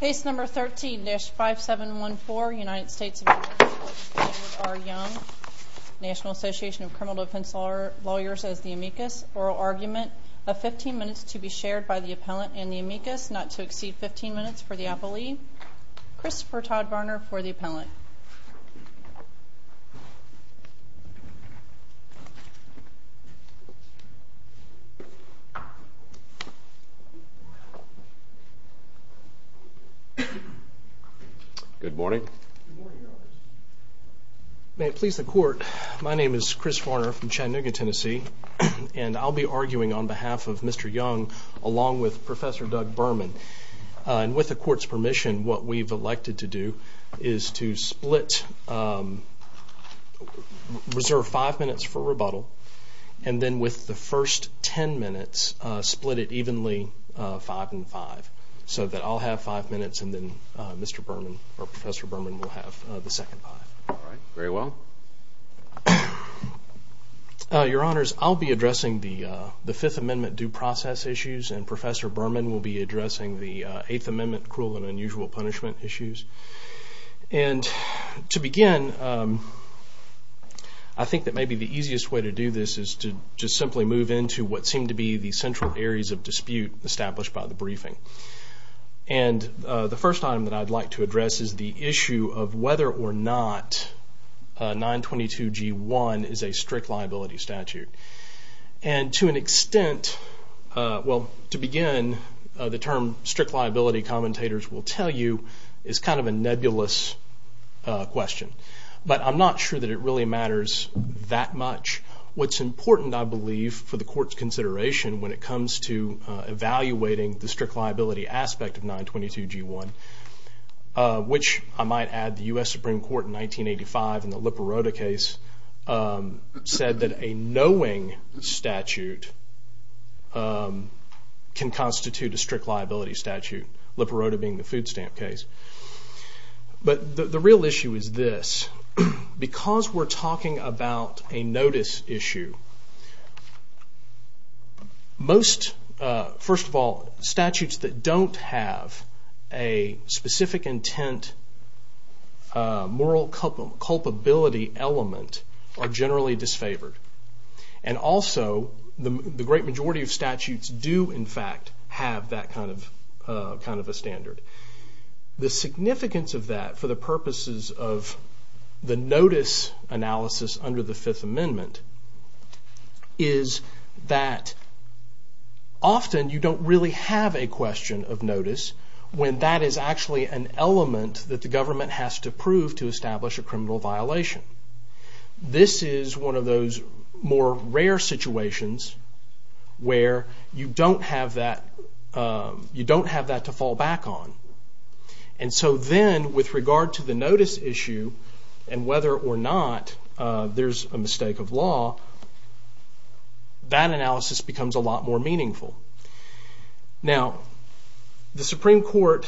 National Association of Criminal Defense Lawyers as the amicus, oral argument of 15 minutes to be shared by the appellant and the amicus, not to exceed 15 minutes for the appellee, Christopher Todd Varner for the appellant. Good morning. May it please the court, my name is Chris Varner from Chattanooga, Tennessee, and I'll be arguing on behalf of Mr. Young along with Professor Doug Berman. And with the court's permission, what we've elected to do is to split, reserve 5 minutes for rebuttal, and then with the first 10 minutes, split it evenly 5 and 5, so that I'll have 5 minutes and then Mr. Berman, or Professor Berman will have the second 5. Alright, very well. Your Honors, I'll be addressing the Fifth Amendment due process issues and Professor Berman will be addressing the Eighth Amendment cruel and unusual punishment issues. And to begin, I think that maybe the easiest way to do this is to just simply move into what seem to be the central areas of dispute established by the briefing. And the first item that I'd like to address is the issue of whether or not 922G1 is a strict liability statute. And to an extent, well to begin, the term strict liability commentators will tell you is kind of a nebulous question. But I'm not sure that it really matters that much. What's important, I believe, for the court's consideration when it comes to evaluating the strict liability aspect of 922G1, which I might add the U.S. Supreme Court in 1985 in the Liparota case said that a knowing statute can constitute a strict liability statute, Liparota being the food stamp case. But the real issue is this. Because we're talking about a notice issue, most, first of all, statutes that don't have a specific intent moral culpability element are generally disfavored. And also, the great majority of statutes do in fact have that kind of a standard. The significance of that for the purposes of the notice analysis under the Fifth Amendment is that often you don't really have a question of notice when that is actually an element that the government has to prove to establish a criminal violation. This is one of those more rare situations where you don't have that to fall back on. And so then, with regard to the notice issue and whether or not there's a mistake of law, that analysis becomes a lot more meaningful. Now, the Supreme Court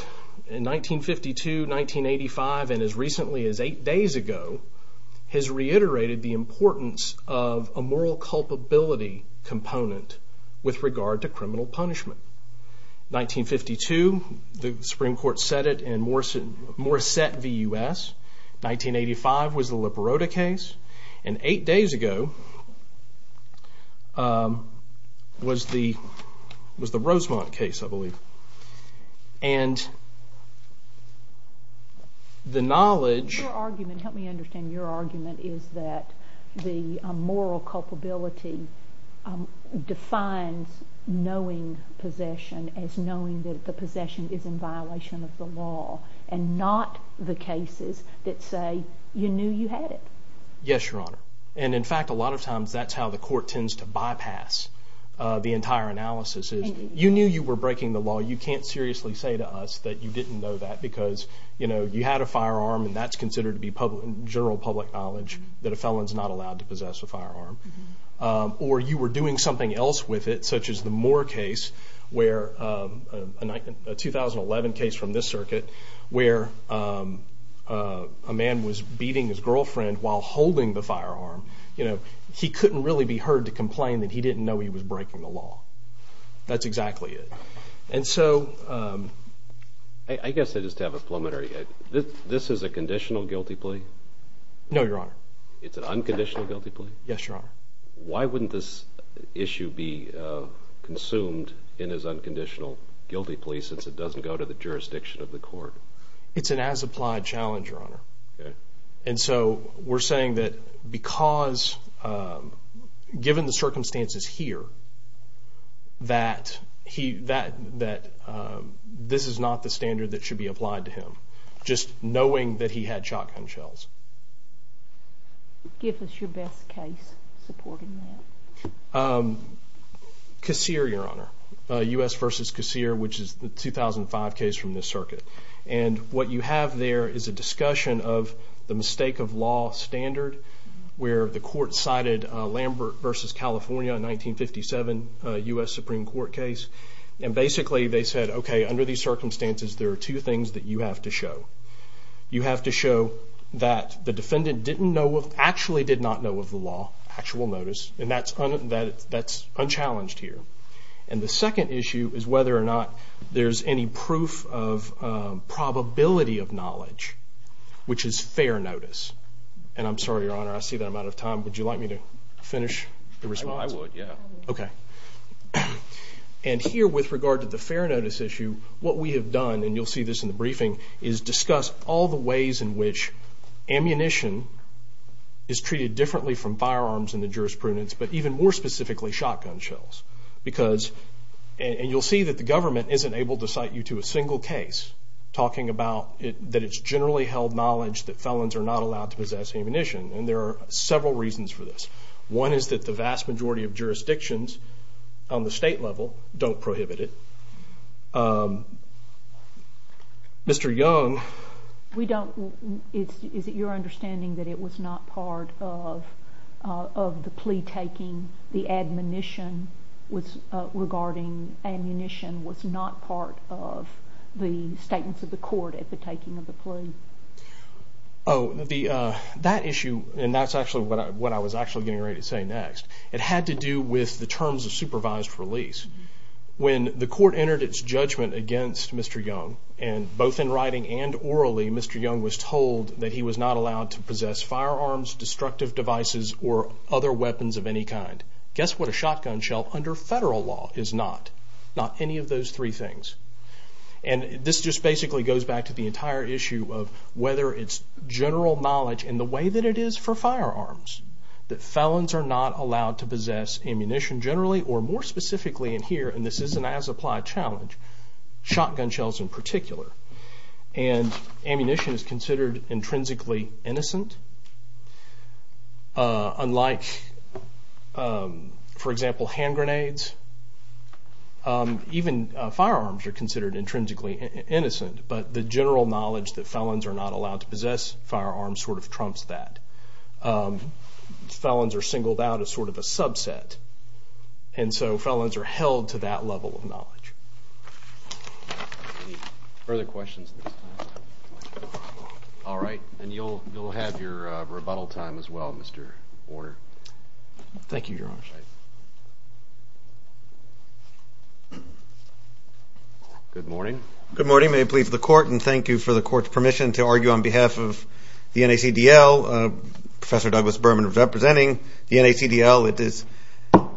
in 1952, 1985, and as recently as eight days ago, has reiterated the importance of a moral culpability component with regard to criminal punishment. 1952, the Supreme Court set it in Morissette v. U.S. 1985 was the Liparota case. And eight days ago was the Rosemont case, I believe. Your argument, help me understand your argument, is that the moral culpability defines knowing possession as knowing that the possession is in violation of the law and not the cases that say you knew you had it. Yes, Your Honor. And, in fact, a lot of times that's how the court tends to bypass the entire analysis. You knew you were breaking the law. You can't seriously say to us that you didn't know that because, you know, you had a firearm and that's considered to be general public knowledge that a felon's not allowed to possess a firearm. Or you were doing something else with it, such as the Moore case, a 2011 case from this circuit, where a man was beating his girlfriend while holding the firearm. You know, he couldn't really be heard to complain that he didn't know he was breaking the law. That's exactly it. And so... I guess I just have a preliminary. This is a conditional guilty plea? No, Your Honor. It's an unconditional guilty plea? Yes, Your Honor. Why wouldn't this issue be consumed in as unconditional guilty plea since it doesn't go to the jurisdiction of the court? It's an as-applied challenge, Your Honor. Okay. And so we're saying that because, given the circumstances here, that this is not the standard that should be applied to him, just knowing that he had shotgun shells. Give us your best case supporting that. Casere, Your Honor. U.S. v. Casere, which is the 2005 case from this circuit. And what you have there is a discussion of the mistake-of-law standard, where the court cited Lambert v. California, a 1957 U.S. Supreme Court case. And basically they said, okay, under these circumstances, there are two things that you have to show. You have to show that the defendant actually did not know of the law, actual notice, and that's unchallenged here. And the second issue is whether or not there's any proof of probability of knowledge, which is fair notice. And I'm sorry, Your Honor, I see that I'm out of time. Would you like me to finish the response? I would, yeah. Okay. And here, with regard to the fair notice issue, what we have done, and you'll see this in the briefing, is discuss all the ways in which ammunition is treated differently from firearms in the jurisprudence, but even more specifically, shotgun shells. Because, and you'll see that the government isn't able to cite you to a single case, talking about that it's generally held knowledge that felons are not allowed to possess ammunition. And there are several reasons for this. One is that the vast majority of jurisdictions on the state level don't prohibit it. Mr. Young. We don't, is it your understanding that it was not part of the plea taking, the admonition regarding ammunition was not part of the statements of the court at the taking of the plea? Oh, that issue, and that's actually what I was actually getting ready to say next, it had to do with the terms of supervised release. When the court entered its judgment against Mr. Young, and both in writing and orally, Mr. Young was told that he was not allowed to possess firearms, destructive devices, or other weapons of any kind. Guess what a shotgun shell under federal law is not? Not any of those three things. And this just basically goes back to the entire issue of whether it's general knowledge in the way that it is for firearms, that felons are not allowed to possess ammunition generally, or more specifically in here, and this is an as-applied challenge, shotgun shells in particular. And ammunition is considered intrinsically innocent, unlike, for example, hand grenades, even firearms are considered intrinsically innocent, but the general knowledge that felons are not allowed to possess firearms sort of trumps that. Felons are singled out as sort of a subset, and so felons are held to that level of knowledge. Any further questions at this time? All right, and you'll have your rebuttal time as well, Mr. Warner. Thank you, Your Honor. Good morning. Good morning. May it please the Court, and thank you for the Court's permission to argue on behalf of the NACDL. Professor Douglas Berman is representing the NACDL. It is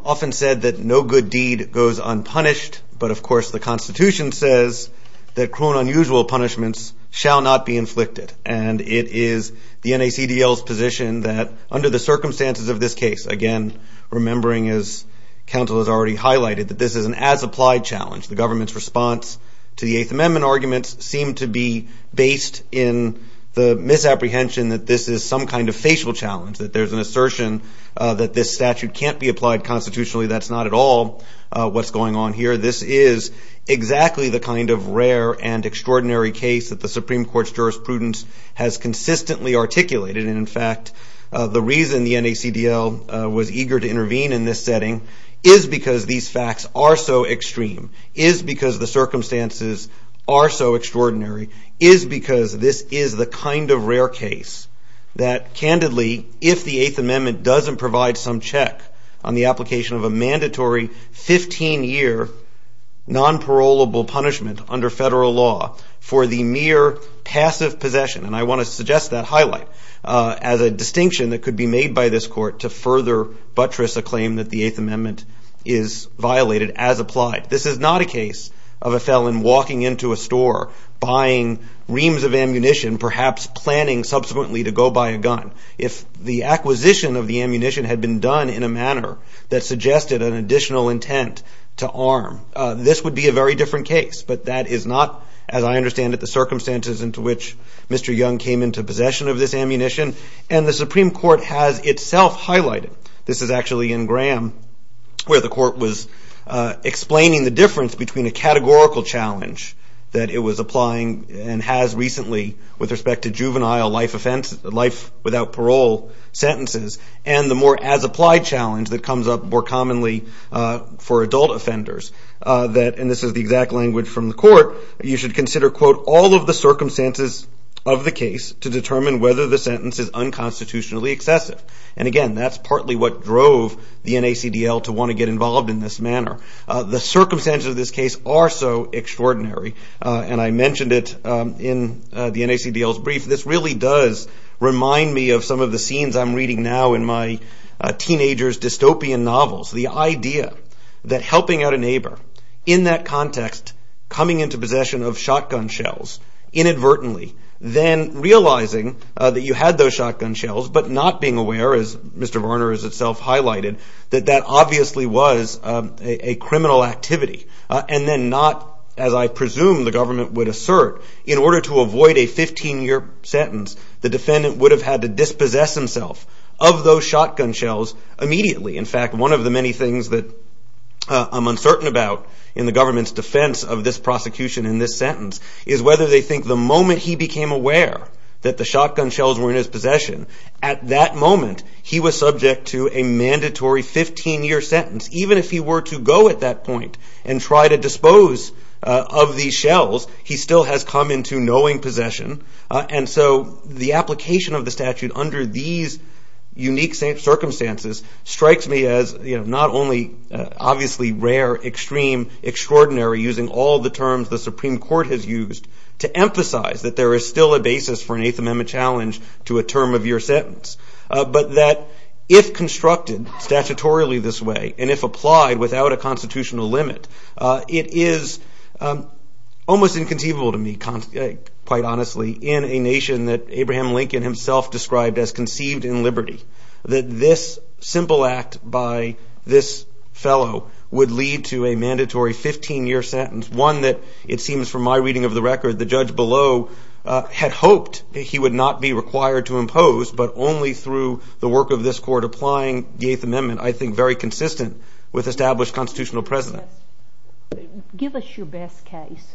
often said that no good deed goes unpunished, but of course the Constitution says that cruel and unusual punishments shall not be inflicted, and it is the NACDL's position that under the circumstances of this case, again, remembering as counsel has already highlighted, that this is an as-applied challenge. The government's response to the Eighth Amendment arguments seem to be based in the misapprehension that this is some kind of facial challenge, that there's an assertion that this statute can't be applied constitutionally. That's not at all what's going on here. This is exactly the kind of rare and extraordinary case that the Supreme Court's jurisprudence has consistently articulated, and, in fact, the reason the NACDL was eager to intervene in this setting is because these facts are so extreme, is because the circumstances are so extraordinary, is because this is the kind of rare case that, candidly, if the Eighth Amendment doesn't provide some check on the application of a mandatory 15-year non-parolable punishment under federal law for the mere passive possession, and I want to suggest that highlight as a distinction that could be made by this court to further buttress a claim that the Eighth Amendment is violated as applied. This is not a case of a felon walking into a store, buying reams of ammunition, perhaps planning subsequently to go buy a gun. If the acquisition of the ammunition had been done in a manner that suggested an additional intent to arm, this would be a very different case. But that is not, as I understand it, the circumstances into which Mr. Young came into possession of this ammunition. And the Supreme Court has itself highlighted, this is actually in Graham, where the court was explaining the difference between a categorical challenge that it was applying and has recently with respect to juvenile life without parole sentences, and the more as-applied challenge that comes up more commonly for adult offenders. And this is the exact language from the court. You should consider, quote, all of the circumstances of the case to determine whether the sentence is unconstitutionally excessive. And again, that's partly what drove the NACDL to want to get involved in this manner. The circumstances of this case are so extraordinary. And I mentioned it in the NACDL's brief. This really does remind me of some of the scenes I'm reading now in my teenager's dystopian novels. The idea that helping out a neighbor in that context, coming into possession of shotgun shells inadvertently, then realizing that you had those shotgun shells but not being aware, as Mr. Varner has itself highlighted, that that obviously was a criminal activity. And then not, as I presume the government would assert, in order to avoid a 15-year sentence, the defendant would have had to dispossess himself of those shotgun shells immediately. In fact, one of the many things that I'm uncertain about in the government's defense of this prosecution in this sentence is whether they think the moment he became aware that the shotgun shells were in his possession, at that moment he was subject to a mandatory 15-year sentence. Even if he were to go at that point and try to dispose of these shells, he still has come into knowing possession. And so the application of the statute under these unique circumstances strikes me as not only obviously rare, extreme, extraordinary, using all the terms the Supreme Court has used, to emphasize that there is still a basis for an Eighth Amendment challenge to a term-of-year sentence, but that if constructed statutorily this way and if applied without a constitutional limit, it is almost inconceivable to me, quite honestly, in a nation that Abraham Lincoln himself described as conceived in liberty, that this simple act by this fellow would lead to a mandatory 15-year sentence, one that it seems from my reading of the record the judge below had hoped he would not be required to impose, but only through the work of this Court applying the Eighth Amendment, I think very consistent with established constitutional precedent. Give us your best case.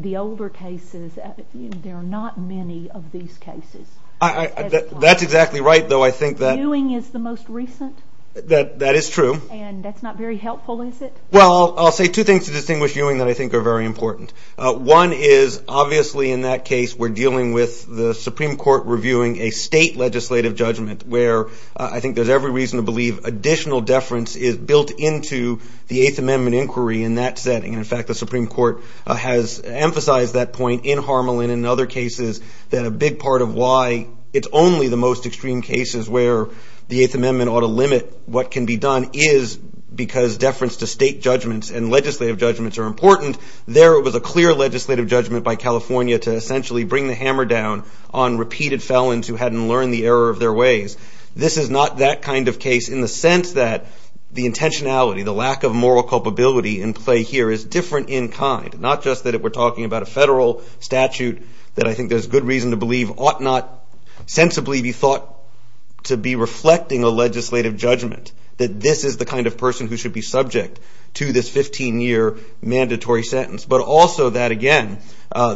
The older cases, there are not many of these cases. That's exactly right, though, I think that... Ewing is the most recent. That is true. And that's not very helpful, is it? Well, I'll say two things to distinguish Ewing that I think are very important. One is obviously in that case we're dealing with the Supreme Court reviewing a state legislative judgment, where I think there's every reason to believe additional deference is built into the Eighth Amendment inquiry in that setting. In fact, the Supreme Court has emphasized that point in Harmelin and other cases, that a big part of why it's only the most extreme cases where the Eighth Amendment ought to limit what can be done, is because deference to state judgments and legislative judgments are important. There it was a clear legislative judgment by California to essentially bring the hammer down on repeated felons who hadn't learned the error of their ways. This is not that kind of case in the sense that the intentionality, the lack of moral culpability in play here is different in kind, not just that if we're talking about a federal statute that I think there's good reason to believe ought not sensibly be thought to be reflecting a legislative judgment, that this is the kind of person who should be subject to this 15-year mandatory sentence. But also that, again,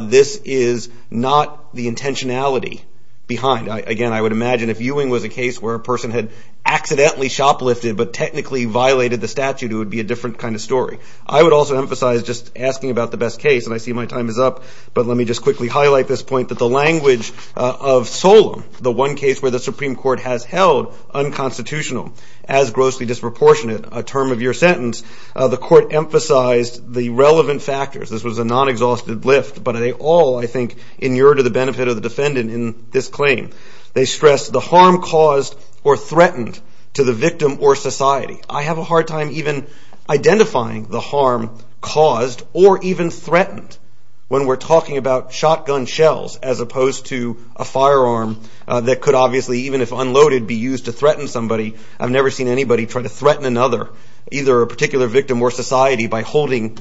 this is not the intentionality behind. Again, I would imagine if Ewing was a case where a person had accidentally shoplifted but technically violated the statute, it would be a different kind of story. I would also emphasize, just asking about the best case, and I see my time is up, but let me just quickly highlight this point, that the language of Solem, the one case where the Supreme Court has held unconstitutional as grossly disproportionate, a term of your sentence, the court emphasized the relevant factors. This was a non-exhausted lift, but they all, I think, inure to the benefit of the defendant in this claim. They stress the harm caused or threatened to the victim or society. I have a hard time even identifying the harm caused or even threatened when we're talking about shotgun shells as opposed to a firearm that could obviously, even if unloaded, be used to threaten somebody. I've never seen anybody try to threaten another, either a particular victim or society, by holding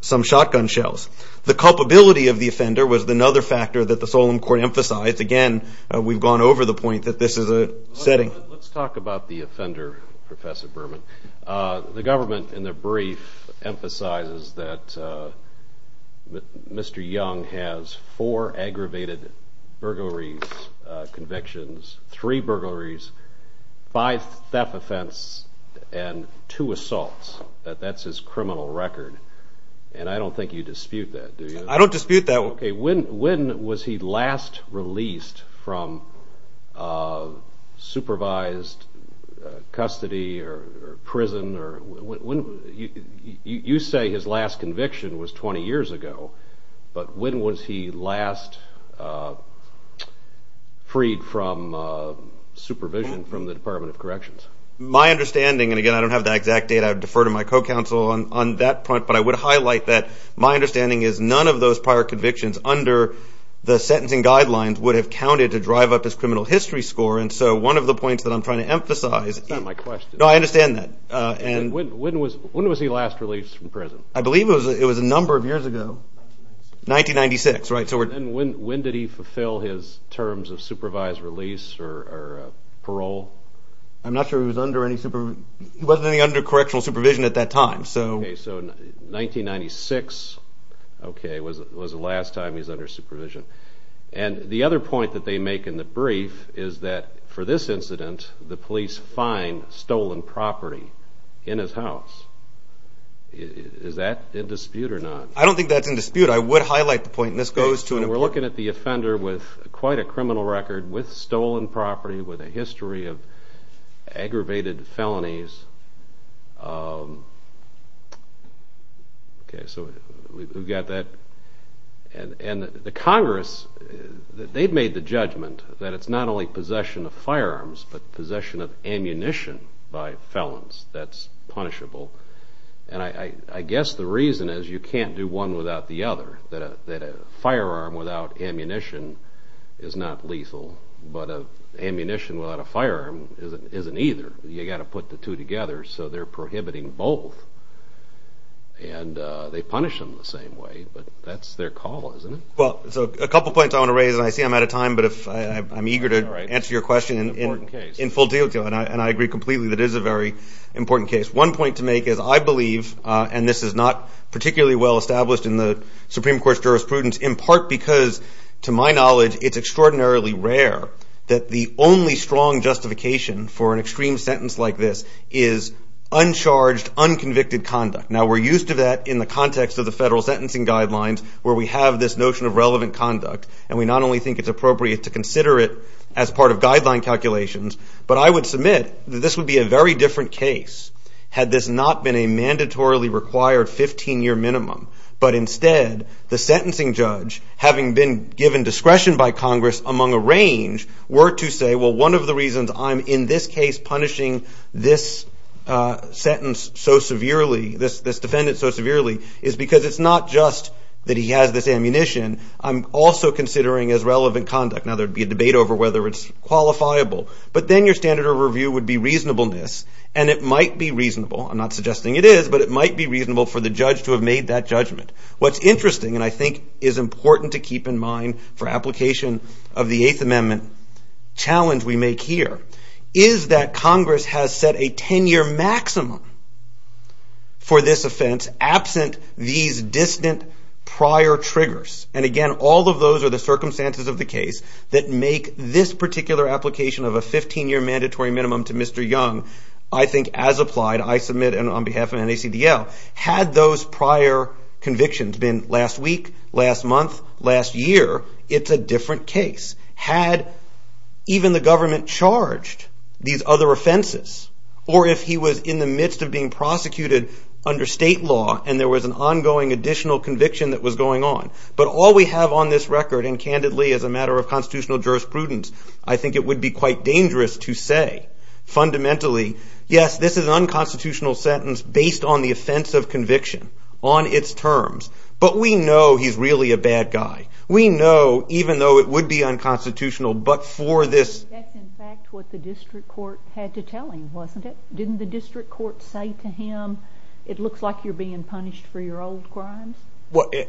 some shotgun shells. The culpability of the offender was another factor that the Solem Court emphasized. Again, we've gone over the point that this is a setting. Let's talk about the offender, Professor Berman. The government, in their brief, emphasizes that Mr. Young has four aggravated burglaries, convictions, three burglaries, five theft offenses, and two assaults. That's his criminal record, and I don't think you dispute that, do you? I don't dispute that. When was he last released from supervised custody or prison? You say his last conviction was 20 years ago, but when was he last freed from supervision from the Department of Corrections? My understanding, and again, I don't have the exact date. I would defer to my co-counsel on that point, but I would highlight that my understanding is none of those prior convictions under the sentencing guidelines would have counted to drive up his criminal history score, and so one of the points that I'm trying to emphasize... That's not my question. No, I understand that. When was he last released from prison? I believe it was a number of years ago. 1996, right? When did he fulfill his terms of supervised release or parole? I'm not sure he was under any... He wasn't under correctional supervision at that time. Okay, so 1996 was the last time he was under supervision. And the other point that they make in the brief is that for this incident, the police find stolen property in his house. Is that in dispute or not? I don't think that's in dispute. I would highlight the point, and this goes to an... We're looking at the offender with quite a criminal record with stolen property, with a history of aggravated felonies. Okay, so we've got that. And the Congress, they've made the judgment that it's not only possession of firearms but possession of ammunition by felons. That's punishable. And I guess the reason is you can't do one without the other, that a firearm without ammunition is not lethal, but ammunition without a firearm isn't either. You've got to put the two together, so they're prohibiting both. And they punish them the same way, but that's their call, isn't it? Well, so a couple points I want to raise, and I see I'm out of time, but I'm eager to answer your question in full detail, and I agree completely that it is a very important case. One point to make is I believe, and this is not particularly well established in the Supreme Court's jurisprudence, in part because, to my knowledge, it's extraordinarily rare that the only strong justification for an extreme sentence like this is uncharged, unconvicted conduct. Now, we're used to that in the context of the federal sentencing guidelines where we have this notion of relevant conduct, and we not only think it's appropriate to consider it as part of guideline calculations, but I would submit that this would be a very different case had this not been a mandatorily required 15-year minimum. But instead, the sentencing judge, having been given discretion by Congress among a range, were to say, well, one of the reasons I'm in this case punishing this sentence so severely, this defendant so severely, is because it's not just that he has this ammunition. I'm also considering as relevant conduct. Now, there would be a debate over whether it's qualifiable, but then your standard of review would be reasonableness, and it might be reasonable, I'm not suggesting it is, but it might be reasonable for the judge to have made that judgment. What's interesting, and I think is important to keep in mind for application of the Eighth Amendment challenge we make here, is that Congress has set a 10-year maximum for this offense absent these distant prior triggers. And again, all of those are the circumstances of the case that make this particular application of a 15-year mandatory minimum to Mr. Young I think as applied, I submit on behalf of NACDL, had those prior convictions been last week, last month, last year, it's a different case. Had even the government charged these other offenses, or if he was in the midst of being prosecuted under state law and there was an ongoing additional conviction that was going on. But all we have on this record, and candidly, as a matter of constitutional jurisprudence, I think it would be quite dangerous to say fundamentally, yes, this is an unconstitutional sentence based on the offense of conviction, on its terms. But we know he's really a bad guy. We know, even though it would be unconstitutional, but for this... That's in fact what the district court had to tell him, wasn't it? Didn't the district court say to him, it looks like you're being punished for your old crimes?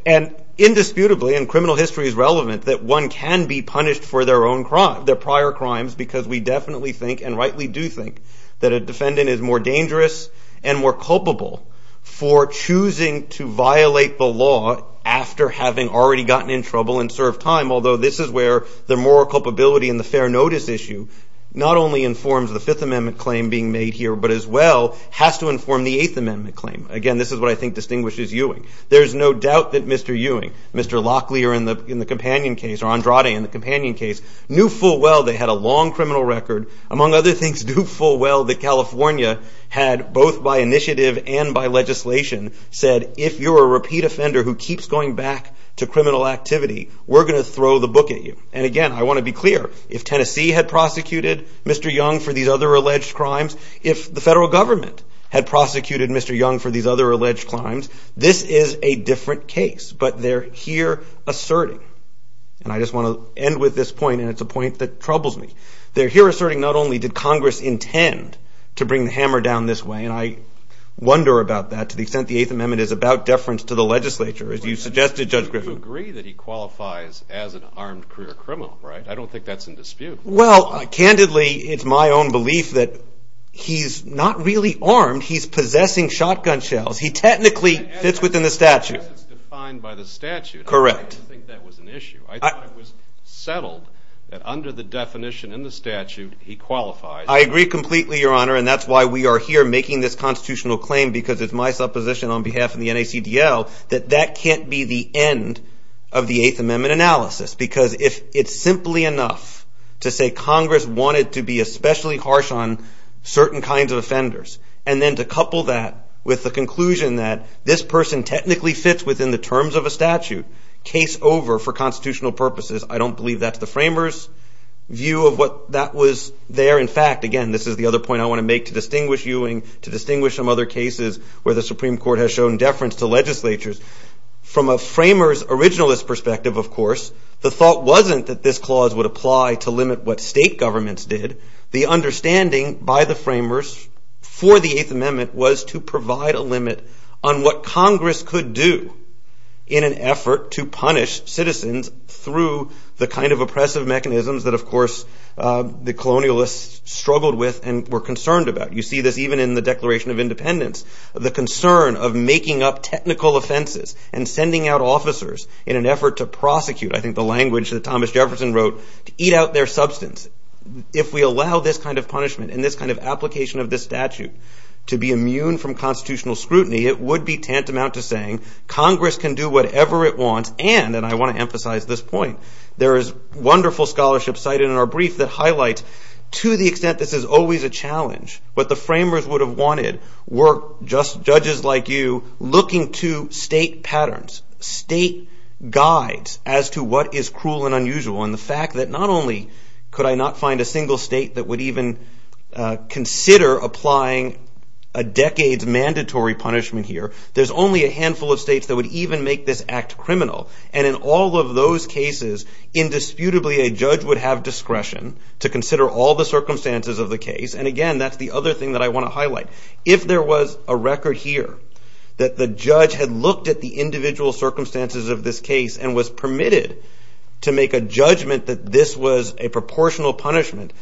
And indisputably, and criminal history is relevant, that one can be punished for their prior crimes because we definitely think, and rightly do think, that a defendant is more dangerous and more culpable for choosing to violate the law after having already gotten in trouble and served time. Although this is where the moral culpability and the fair notice issue not only informs the Fifth Amendment claim being made here, but as well has to inform the Eighth Amendment claim. Again, this is what I think distinguishes Ewing. There's no doubt that Mr. Ewing, Mr. Locklear in the companion case, or Andrade in the companion case, knew full well they had a long criminal record. Among other things, knew full well that California had, both by initiative and by legislation, said if you're a repeat offender who keeps going back to criminal activity, we're going to throw the book at you. And again, I want to be clear, if Tennessee had prosecuted Mr. Young for these other alleged crimes, if the federal government had prosecuted Mr. Young for these other alleged crimes, this is a different case. But they're here asserting, and I just want to end with this point, and it's a point that troubles me. They're here asserting not only did Congress intend to bring the hammer down this way, and I wonder about that to the extent the Eighth Amendment is about deference to the legislature, as you suggested, Judge Griffin. You agree that he qualifies as an armed career criminal, right? I don't think that's in dispute. Well, candidly, it's my own belief that he's not really armed. He's possessing shotgun shells. He technically fits within the statute. As it's defined by the statute, I don't think that was an issue. I thought it was settled that under the definition in the statute, he qualifies. I agree completely, Your Honor, and that's why we are here making this constitutional claim because it's my supposition on behalf of the NACDL that that can't be the end of the Eighth Amendment analysis because if it's simply enough to say Congress wanted to be especially harsh on certain kinds of offenders and then to couple that with the conclusion that this person technically fits within the terms of a statute, case over for constitutional purposes, I don't believe that's the framers' view of what that was there. In fact, again, this is the other point I want to make to distinguish Ewing, to distinguish some other cases where the Supreme Court has shown deference to legislatures. From a framers' originalist perspective, of course, the thought wasn't that this clause would apply to limit what state governments did. The understanding by the framers for the Eighth Amendment was to provide a limit on what Congress could do in an effort to punish citizens through the kind of oppressive mechanisms that, of course, the colonialists struggled with and were concerned about. You see this even in the Declaration of Independence. The concern of making up technical offenses and sending out officers in an effort to prosecute, I think the language that Thomas Jefferson wrote, to eat out their substance. If we allow this kind of punishment and this kind of application of this statute to be immune from constitutional scrutiny, it would be tantamount to saying Congress can do whatever it wants and, and I want to emphasize this point, there is wonderful scholarship cited in our brief that highlights to the extent this is always a challenge, what the framers would have wanted were judges like you looking to state patterns, state guides as to what is cruel and unusual. And the fact that not only could I not find a single state that would even consider applying a decade's mandatory punishment here, there's only a handful of states that would even make this act criminal. And in all of those cases, indisputably a judge would have discretion to consider all the circumstances of the case. And again, that's the other thing that I want to highlight. If there was a record here that the judge had looked at the individual circumstances of this case and was permitted to make a judgment that this was a proportional punishment,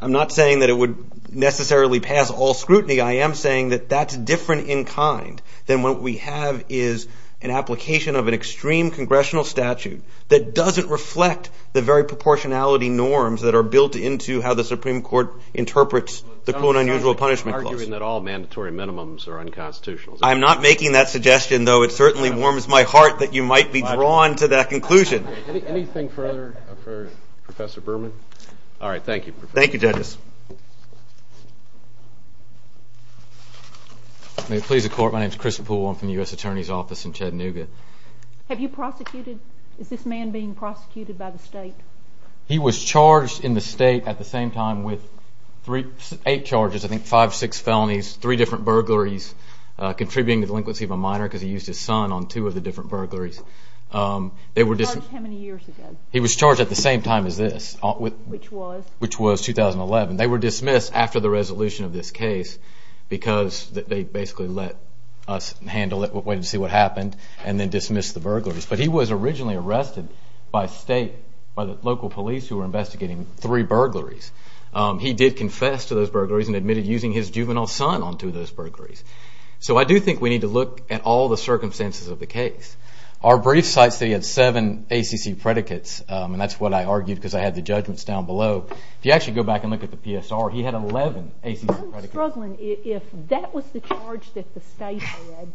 I'm not saying that it would necessarily pass all scrutiny. I am saying that that's different in kind than what we have is an application of an extreme congressional statute that doesn't reflect the very proportionality norms that are built into how the Supreme Court interprets the cruel and unusual punishment clause. You're arguing that all mandatory minimums are unconstitutional. I'm not making that suggestion, though. It certainly warms my heart that you might be drawn to that conclusion. Anything further for Professor Berman? All right. Thank you. Thank you, judges. May it please the Court. My name is Christopher Bull. I'm from the U.S. Attorney's Office in Chattanooga. Have you prosecuted? Is this man being prosecuted by the state? He was charged in the state at the same time with eight charges, I think five, six felonies, three different burglaries, contributing to the delinquency of a minor because he used his son on two of the different burglaries. How many years ago? He was charged at the same time as this. Which was? Which was 2011. They were dismissed after the resolution of this case because they basically let us handle it, waited to see what happened, and then dismissed the burglaries. But he was originally arrested by the local police who were investigating three burglaries. He did confess to those burglaries and admitted using his juvenile son on two of those burglaries. So I do think we need to look at all the circumstances of the case. Our brief cites that he had seven ACC predicates, and that's what I argued because I had the judgments down below. If you actually go back and look at the PSR, he had 11 ACC predicates. I'm struggling. If that was the charge that the state had,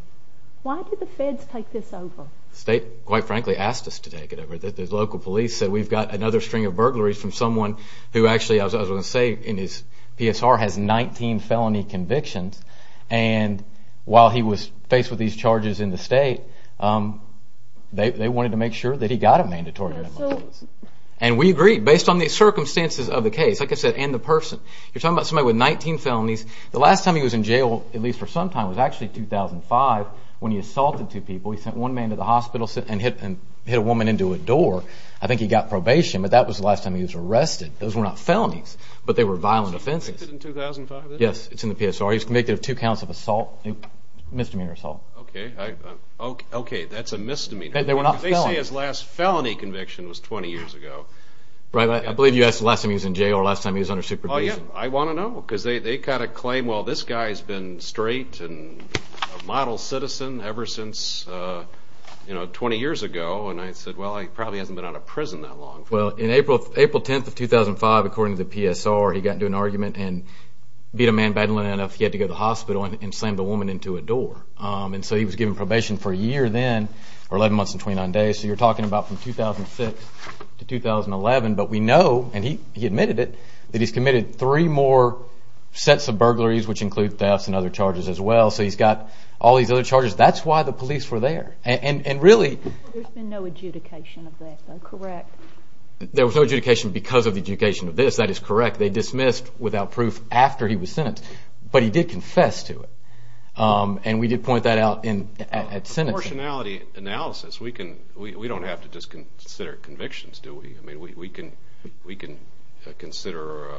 why did the feds take this over? The state, quite frankly, asked us to take it over. The local police said we've got another string of burglaries from someone who actually, as I was going to say in his PSR, has 19 felony convictions. And while he was faced with these charges in the state, they wanted to make sure that he got a mandatory remand. And we agreed based on the circumstances of the case, like I said, and the person. You're talking about somebody with 19 felonies. The last time he was in jail, at least for some time, was actually 2005 when he assaulted two people. He sent one man to the hospital and hit a woman into a door. I think he got probation, but that was the last time he was arrested. Those were not felonies, but they were violent offenses. Was he convicted in 2005? Yes, it's in the PSR. He was convicted of two counts of assault, misdemeanor assault. Okay, that's a misdemeanor. They were not felonies. They say his last felony conviction was 20 years ago. I believe you asked the last time he was in jail or the last time he was under supervision. I want to know because they kind of claim, well, this guy's been straight and a model citizen ever since 20 years ago. And I said, well, he probably hasn't been out of prison that long. Well, on April 10th of 2005, according to the PSR, he got into an argument and beat a man badly enough he had to go to the hospital and slam the woman into a door. And so he was given probation for a year then, or 11 months and 29 days. So you're talking about from 2006 to 2011. But we know, and he admitted it, that he's committed three more sets of burglaries, which include thefts and other charges as well. So he's got all these other charges. That's why the police were there. There's been no adjudication of this, correct? There was no adjudication because of the adjudication of this. That is correct. They dismissed without proof after he was sentenced. But he did confess to it, and we did point that out at sentencing. From a proportionality analysis, we don't have to just consider convictions, do we? We can consider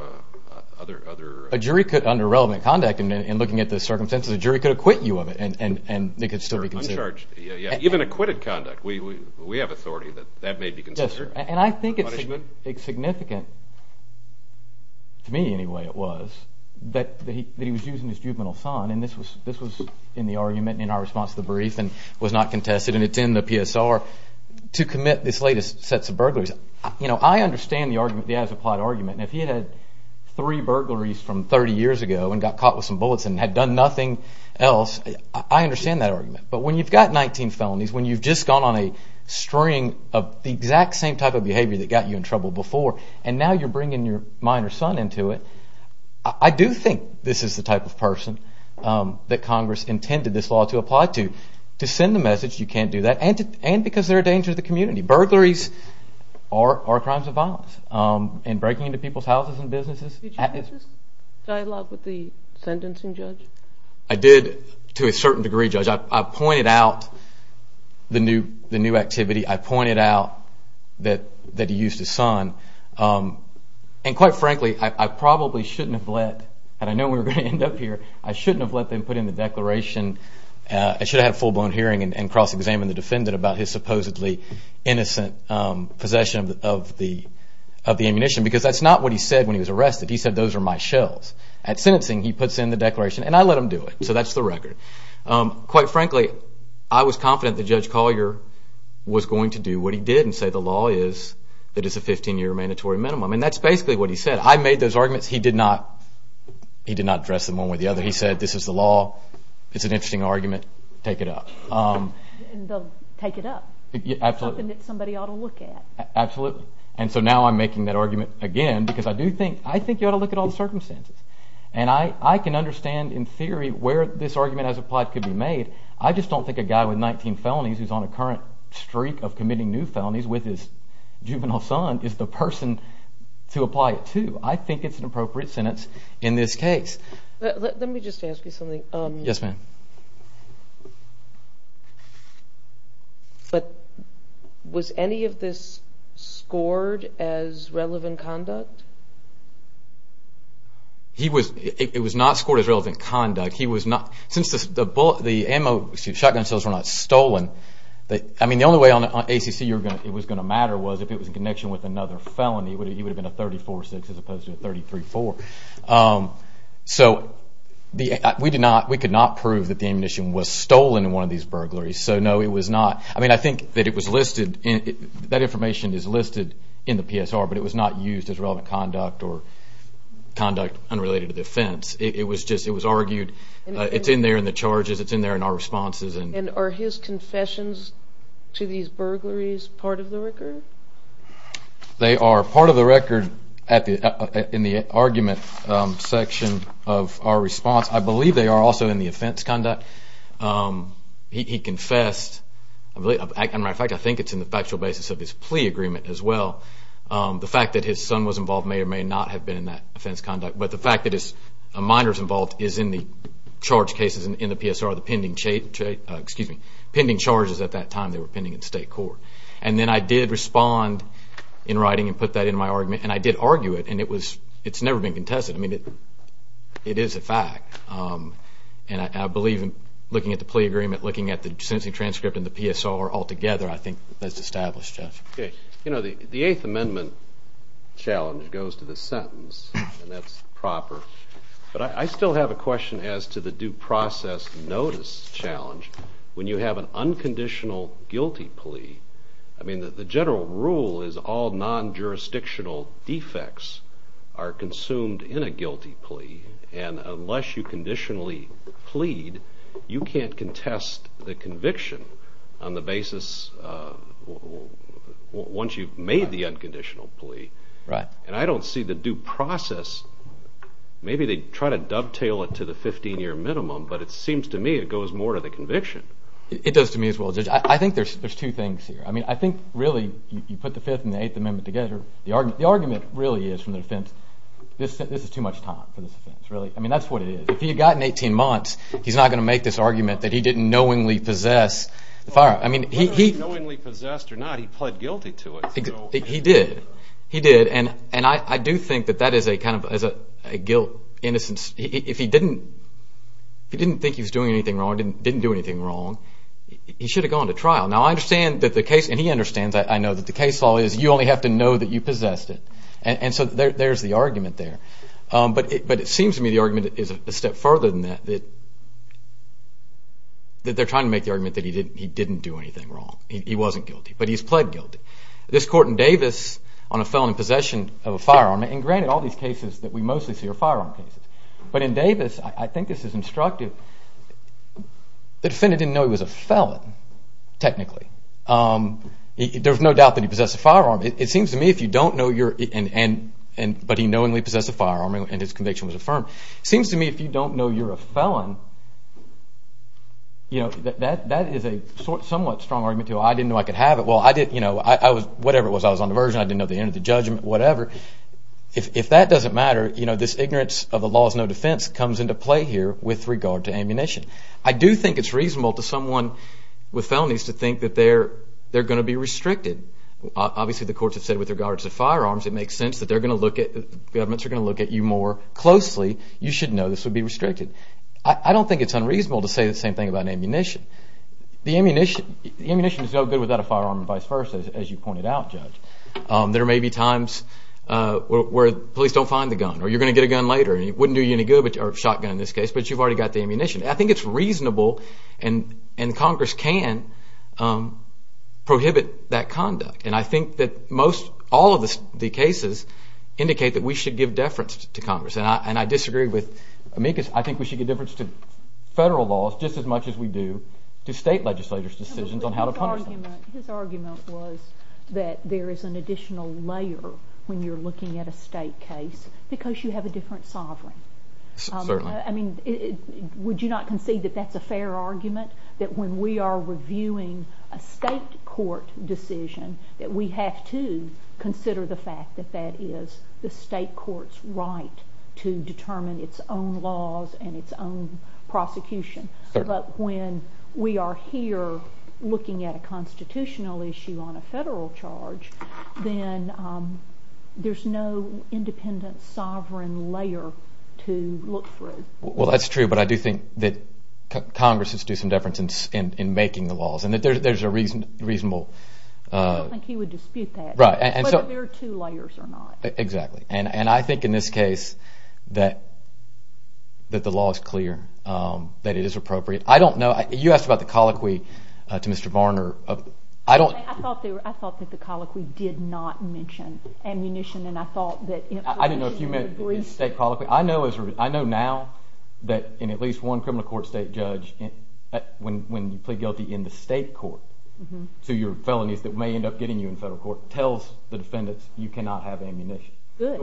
other... A jury could, under relevant conduct and looking at the circumstances, a jury could acquit you of it and it could still be considered. Even acquitted conduct, we have authority that that may be considered. And I think it's significant, to me anyway it was, that he was using his juvenile son. And this was in the argument in our response to the brief and was not contested, and it's in the PSR, to commit this latest sets of burglaries. I understand the as-applied argument. And if he had had three burglaries from 30 years ago and got caught with some bullets and had done nothing else, I understand that argument. But when you've got 19 felonies, when you've just gone on a string of the exact same type of behavior that got you in trouble before, and now you're bringing your minor son into it, I do think this is the type of person that Congress intended this law to apply to. To send the message you can't do that, and because they're a danger to the community. Burglaries are crimes of violence. And breaking into people's houses and businesses... Did you have this dialogue with the sentencing judge? I did, to a certain degree, Judge. I pointed out the new activity. I pointed out that he used his son. And quite frankly, I probably shouldn't have let... And I know we're going to end up here. I shouldn't have let them put in the declaration. I should have had a full-blown hearing and cross-examined the defendant about his supposedly innocent possession of the ammunition, because that's not what he said when he was arrested. He said, those are my shells. At sentencing, he puts in the declaration, and I let him do it. So that's the record. Quite frankly, I was confident that Judge Collier was going to do what he did and say the law is that it's a 15-year mandatory minimum. And that's basically what he said. I made those arguments. He did not address them one way or the other. He said, this is the law. It's an interesting argument. Take it up. And they'll take it up. It's something that somebody ought to look at. Absolutely. And so now I'm making that argument again, because I do think... I think you ought to look at all the circumstances. And I can understand, in theory, where this argument as applied could be made. I just don't think a guy with 19 felonies who's on a current streak of committing new felonies with his juvenile son is the person to apply it to. I think it's an appropriate sentence in this case. Let me just ask you something. Yes, ma'am. Was any of this scored as relevant conduct? It was not scored as relevant conduct. Since the shotgun shells were not stolen, the only way on ACC it was going to matter was if it was in connection with another felony. It would have been a 34-6 as opposed to a 33-4. So we could not prove that the ammunition was stolen in one of these burglaries. So no, it was not. I think that information is listed in the PSR, but it was not used as relevant conduct or conduct unrelated to the offense. It was argued. It's in there in the charges. It's in there in our responses. And are his confessions to these burglaries part of the record? They are part of the record in the argument section of our response. I believe they are also in the offense conduct. He confessed. As a matter of fact, I think it's in the factual basis of his plea agreement as well. The fact that his son was involved may or may not have been in that offense conduct, but the fact that a minor is involved is in the charge cases in the PSR, the pending charges at that time. They were pending in state court. And then I did respond in writing and put that in my argument, and I did argue it, and it's never been contested. I mean, it is a fact. And I believe in looking at the plea agreement, looking at the sentencing transcript and the PSR altogether, I think that's established. The Eighth Amendment challenge goes to the sentence, and that's proper. But I still have a question as to the due process notice challenge. When you have an unconditional guilty plea, I mean, the general rule is all non-jurisdictional defects are consumed in a guilty plea, and unless you conditionally plead, you can't contest the conviction on the basis once you've made the unconditional plea. And I don't see the due process. Maybe they try to dovetail it to the 15-year minimum, but it seems to me it goes more to the conviction. It does to me as well, Judge. I think there's two things here. I mean, I think really you put the Fifth and the Eighth Amendment together. The argument really is from the defense, this is too much time for this offense, really. I mean, that's what it is. If he had gotten 18 months, he's not going to make this argument that he didn't knowingly possess the firearm. Whether he knowingly possessed or not, he pled guilty to it. He did. He did, and I do think that that is a kind of guilt, innocence. If he didn't think he was doing anything wrong or didn't do anything wrong, he should have gone to trial. Now, I understand that the case, and he understands, I know that the case law is you only have to know that you possessed it. And so there's the argument there. But it seems to me the argument is a step further than that, that they're trying to make the argument that he didn't do anything wrong. He wasn't guilty, but he's pled guilty. This court in Davis on a felon in possession of a firearm, and granted all these cases that we mostly see are firearm cases, but in Davis, I think this is instructive, the defendant didn't know he was a felon, technically. There's no doubt that he possessed a firearm. It seems to me if you don't know, but he knowingly possessed a firearm and his conviction was affirmed, it seems to me if you don't know you're a felon, that is a somewhat strong argument to I didn't know I could have it. Whatever it was, I was on diversion, I didn't know the end of the judgment, whatever. If that doesn't matter, this ignorance of the law is no defense comes into play here with regard to ammunition. I do think it's reasonable to someone with felonies to think that they're going to be restricted. Obviously the courts have said with regards to firearms it makes sense that they're going to look at, governments are going to look at you more closely. You should know this would be restricted. I don't think it's unreasonable to say the same thing about ammunition. The ammunition is no good without a firearm and vice versa, as you pointed out, Judge. There may be times where police don't find the gun or you're going to get a gun later. It wouldn't do you any good, or a shotgun in this case, but you've already got the ammunition. I think it's reasonable and Congress can prohibit that conduct. I think that all of the cases indicate that we should give deference to Congress. I disagree with Amicus. I think we should give deference to federal laws just as much as we do to state legislators' decisions on how to punish them. His argument was that there is an additional layer when you're looking at a state case because you have a different sovereign. Certainly. Would you not concede that that's a fair argument? That when we are reviewing a state court decision that we have to consider the fact that that is the state court's right to determine its own laws and its own prosecution. Certainly. But when we are here looking at a constitutional issue on a federal charge, then there's no independent sovereign layer to look through. Well, that's true, but I do think that Congress should do some deference in making the laws and that there's a reasonable… I don't think he would dispute that. Right. Whether there are two layers or not. Exactly. And I think in this case that the law is clear, that it is appropriate. I don't know. You asked about the colloquy to Mr. Varner. I thought that the colloquy did not mention ammunition and I thought that… I didn't know if you meant the state colloquy. I know now that in at least one criminal court state judge, when you plead guilty in the state court to your felonies that may end up getting you in federal court, tells the defendants you cannot have ammunition. Good.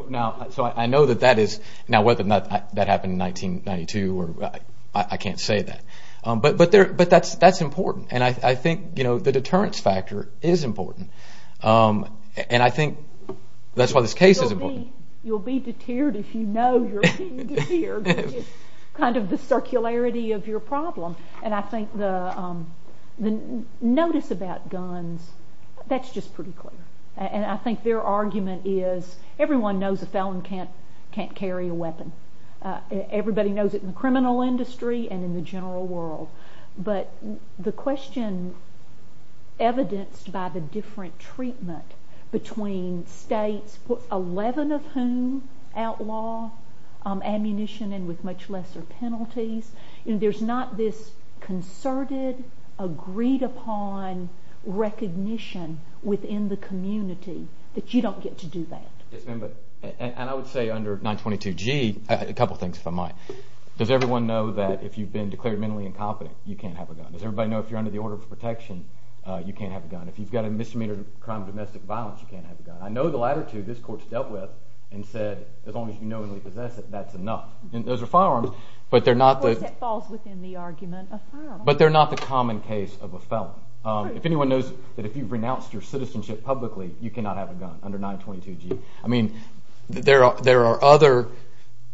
So I know that that is… now whether or not that happened in 1992, I can't say that. But that's important and I think the deterrence factor is important. And I think that's why this case is important. You'll be deterred if you know you're being deterred, which is kind of the circularity of your problem. And I think the notice about guns, that's just pretty clear. And I think their argument is everyone knows a felon can't carry a weapon. Everybody knows it in the criminal industry and in the general world. But the question evidenced by the different treatment between states, 11 of whom outlaw ammunition and with much lesser penalties. There's not this concerted, agreed upon recognition within the community that you don't get to do that. And I would say under 922G, a couple things if I might. Does everyone know that if you've been declared mentally incompetent, you can't have a gun? Does everybody know if you're under the order of protection, you can't have a gun? If you've got a misdemeanor crime of domestic violence, you can't have a gun. I know the latter two this court's dealt with and said as long as you knowingly possess it, that's enough. And those are firearms, but they're not the… Of course that falls within the argument of firearms. But they're not the common case of a felon. If anyone knows that if you've renounced your citizenship publicly, you cannot have a gun under 922G. I mean there are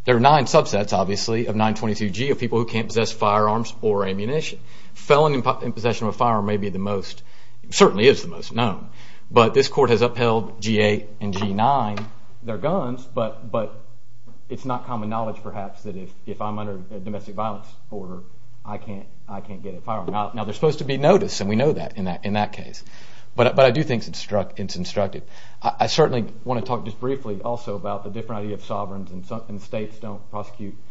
nine subsets obviously of 922G of people who can't possess firearms or ammunition. Felon in possession of a firearm may be the most – certainly is the most known. But this court has upheld G8 and G9. They're guns, but it's not common knowledge perhaps that if I'm under a domestic violence order, I can't get a firearm. Now there's supposed to be notice, and we know that in that case. But I do think it's instructive. I certainly want to talk just briefly also about the different idea of sovereigns and states don't prosecute –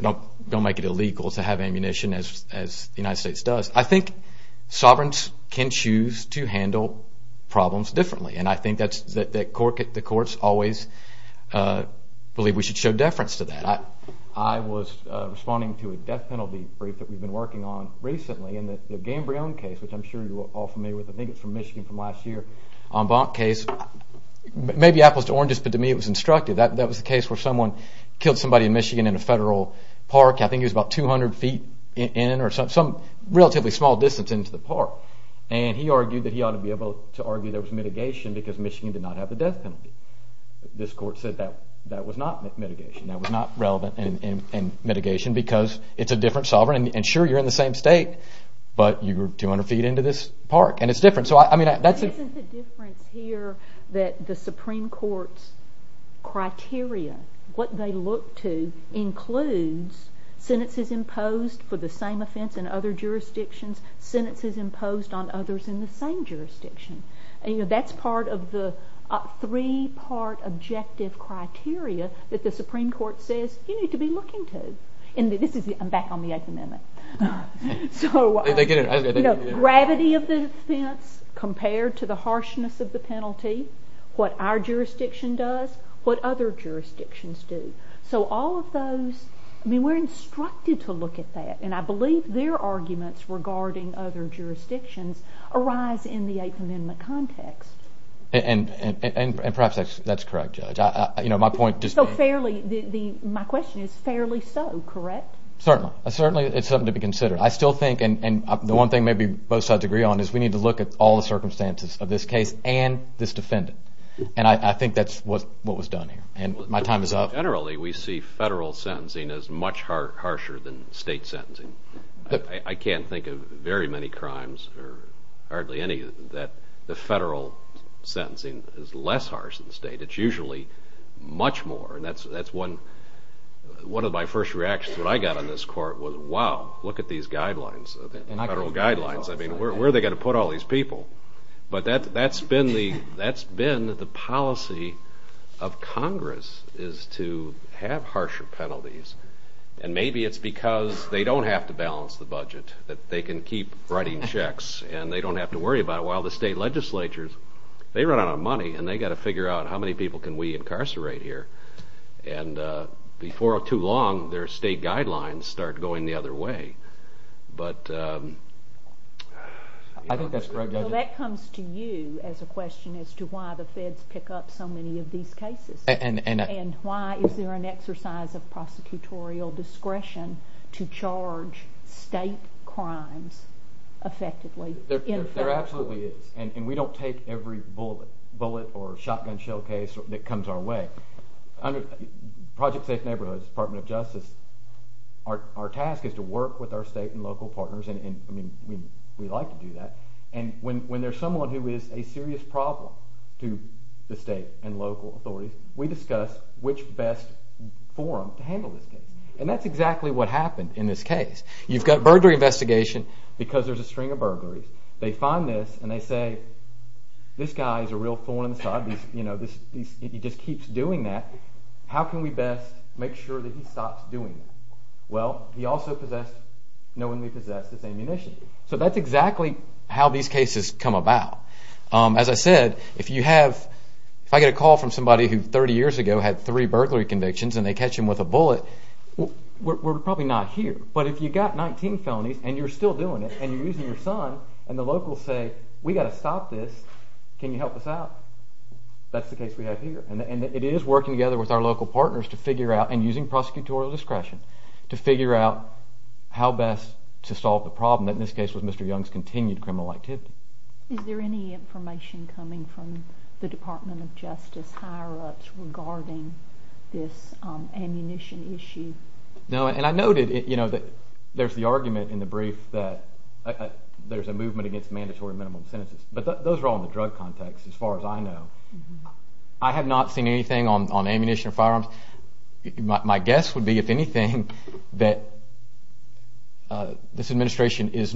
don't make it illegal to have ammunition as the United States does. I think sovereigns can choose to handle problems differently, and I think that the courts always believe we should show deference to that. I was responding to a death penalty brief that we've been working on recently in the Gambrion case, which I'm sure you're all familiar with. I think it's from Michigan from last year. Maybe apples to oranges, but to me it was instructive. That was the case where someone killed somebody in Michigan in a federal park. I think he was about 200 feet in or some relatively small distance into the park. And he argued that he ought to be able to argue there was mitigation because Michigan did not have the death penalty. This court said that was not mitigation. That was not relevant in mitigation because it's a different sovereign. Sure, you're in the same state, but you're 200 feet into this park, and it's different. Isn't the difference here that the Supreme Court's criteria, what they look to, includes sentences imposed for the same offense in other jurisdictions, sentences imposed on others in the same jurisdiction? That's part of the three-part objective criteria that the Supreme Court says you need to be looking to. I'm back on the Eighth Amendment. Gravity of the offense compared to the harshness of the penalty, what our jurisdiction does, what other jurisdictions do. So all of those, we're instructed to look at that, and I believe their arguments regarding other jurisdictions arise in the Eighth Amendment context. And perhaps that's correct, Judge. So my question is, fairly so, correct? Certainly. It's something to be considered. I still think, and the one thing maybe both sides agree on, is we need to look at all the circumstances of this case and this defendant. And I think that's what was done here, and my time is up. Generally, we see federal sentencing as much harsher than state sentencing. I can't think of very many crimes or hardly any that the federal sentencing is less harsh than the state. It's usually much more, and that's one of my first reactions when I got on this court was, wow, look at these guidelines, federal guidelines. I mean, where are they going to put all these people? But that's been the policy of Congress, is to have harsher penalties. And maybe it's because they don't have to balance the budget, that they can keep writing checks, and they don't have to worry about it, while the state legislatures, they run out of money, and they've got to figure out how many people can we incarcerate here. And before too long, their state guidelines start going the other way. I think that's correct, Judge. That comes to you as a question as to why the feds pick up so many of these cases. And why is there an exercise of prosecutorial discretion to charge state crimes effectively? There absolutely is, and we don't take every bullet or shotgun shell case that comes our way. Project Safe Neighborhoods, Department of Justice, our task is to work with our state and local partners, and we like to do that. And when there's someone who is a serious problem to the state and local authorities, we discuss which best forum to handle this case. And that's exactly what happened in this case. You've got a burglary investigation because there's a string of burglaries. They find this and they say, this guy is a real thorn in the side. He just keeps doing that. How can we best make sure that he stops doing that? Well, he also possessed, knowingly possessed, this ammunition. So that's exactly how these cases come about. As I said, if I get a call from somebody who 30 years ago had three burglary convictions and they catch him with a bullet, we're probably not here. But if you've got 19 felonies and you're still doing it, and you're using your son, and the locals say, we've got to stop this, can you help us out? That's the case we have here. And it is working together with our local partners to figure out, and using prosecutorial discretion to figure out how best to solve the problem that in this case was Mr. Young's continued criminal activity. Is there any information coming from the Department of Justice higher-ups regarding this ammunition issue? No, and I noted that there's the argument in the brief that there's a movement against mandatory minimum sentences. But those are all in the drug context as far as I know. I have not seen anything on ammunition or firearms. My guess would be, if anything, that this administration is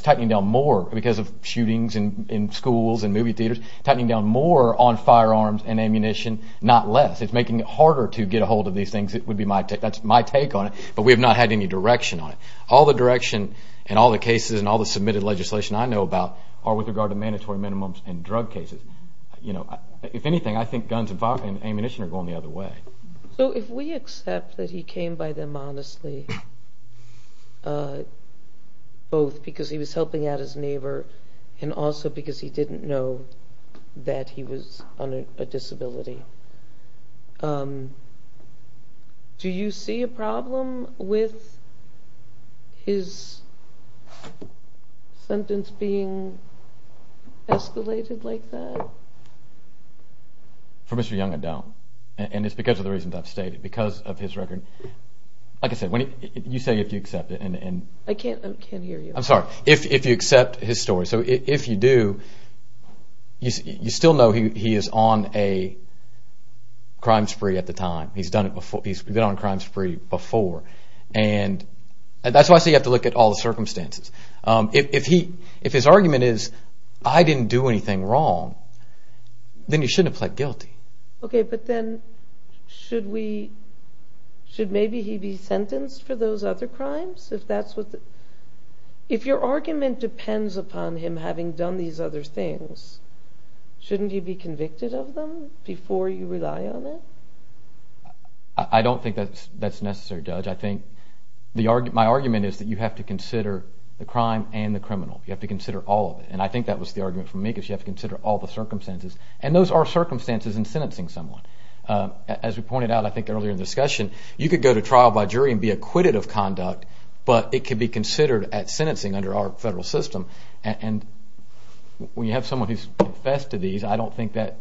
tightening down more because of shootings in schools and movie theaters, tightening down more on firearms and ammunition, not less. It's making it harder to get a hold of these things. That's my take on it, but we have not had any direction on it. All the direction and all the cases and all the submitted legislation I know about are with regard to mandatory minimums and drug cases. If anything, I think guns and ammunition are going the other way. So if we accept that he came by them honestly, both because he was helping out his neighbor and also because he didn't know that he was on a disability, do you see a problem with his sentence being escalated like that? For Mr. Young, I don't. And it's because of the reasons I've stated, because of his record. Like I said, you say if you accept it. I can't hear you. I'm sorry. If you accept his story. So if you do, you still know he is on a crime spree at the time. He's been on a crime spree before. And that's why I say you have to look at all the circumstances. If his argument is, I didn't do anything wrong, then he shouldn't have pled guilty. Okay, but then should maybe he be sentenced for those other crimes? If your argument depends upon him having done these other things, shouldn't he be convicted of them before you rely on it? I don't think that's necessary, Judge. My argument is that you have to consider the crime and the criminal. You have to consider all of it. And I think that was the argument from me, because you have to consider all the circumstances. And those are circumstances in sentencing someone. As we pointed out, I think, earlier in the discussion, you could go to trial by jury and be acquitted of conduct, but it could be considered at sentencing under our federal system. And when you have someone who's confessed to these, I don't think that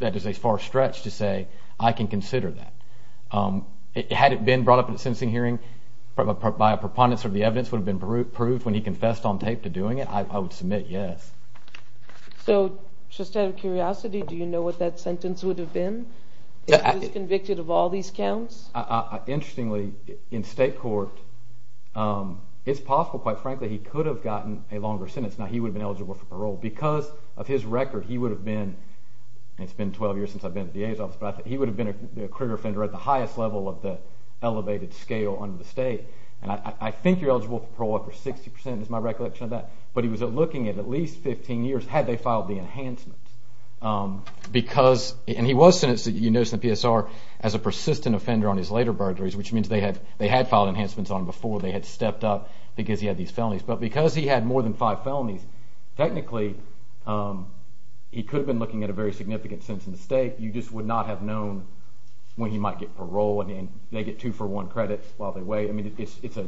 is a far stretch to say, I can consider that. Had it been brought up at a sentencing hearing by a preponderance or the evidence would have been proved when he confessed on tape to doing it, I would submit yes. So, just out of curiosity, do you know what that sentence would have been? If he was convicted of all these counts? Interestingly, in state court, it's possible, quite frankly, he could have gotten a longer sentence. Now, he would have been eligible for parole. Because of his record, he would have been— and it's been 12 years since I've been at the DA's office— but he would have been a clear offender at the highest level of the elevated scale under the state. And I think you're eligible for parole for 60 percent, is my recollection of that. But he was looking at at least 15 years, had they filed the enhancement. Because—and he was sentenced, you notice in the PSR, as a persistent offender on his later burglaries, which means they had filed enhancements on him before they had stepped up because he had these felonies. But because he had more than five felonies, technically he could have been looking at a very significant sentence in the state. You just would not have known when he might get parole and they get two-for-one credits while they wait. I mean, it's a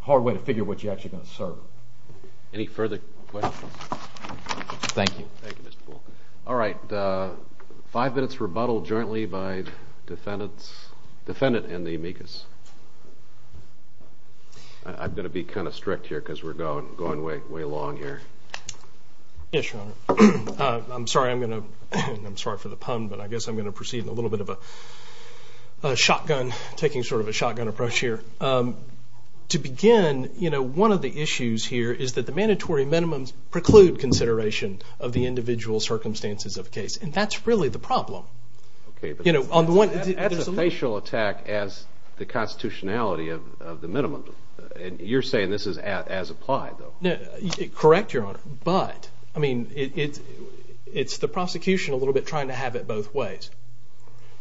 hard way to figure what you're actually going to serve. Any further questions? Thank you. Thank you, Mr. Poole. All right. Five minutes rebuttal jointly by the defendant and the amicus. I'm going to be kind of strict here because we're going way along here. Yes, Your Honor. I'm sorry for the pun, but I guess I'm going to proceed in a little bit of a shotgun, taking sort of a shotgun approach here. To begin, you know, one of the issues here is that the mandatory minimums preclude consideration of the individual circumstances of a case, and that's really the problem. That's a facial attack as the constitutionality of the minimum. You're saying this is as applied, though. Correct, Your Honor. But, I mean, it's the prosecution a little bit trying to have it both ways,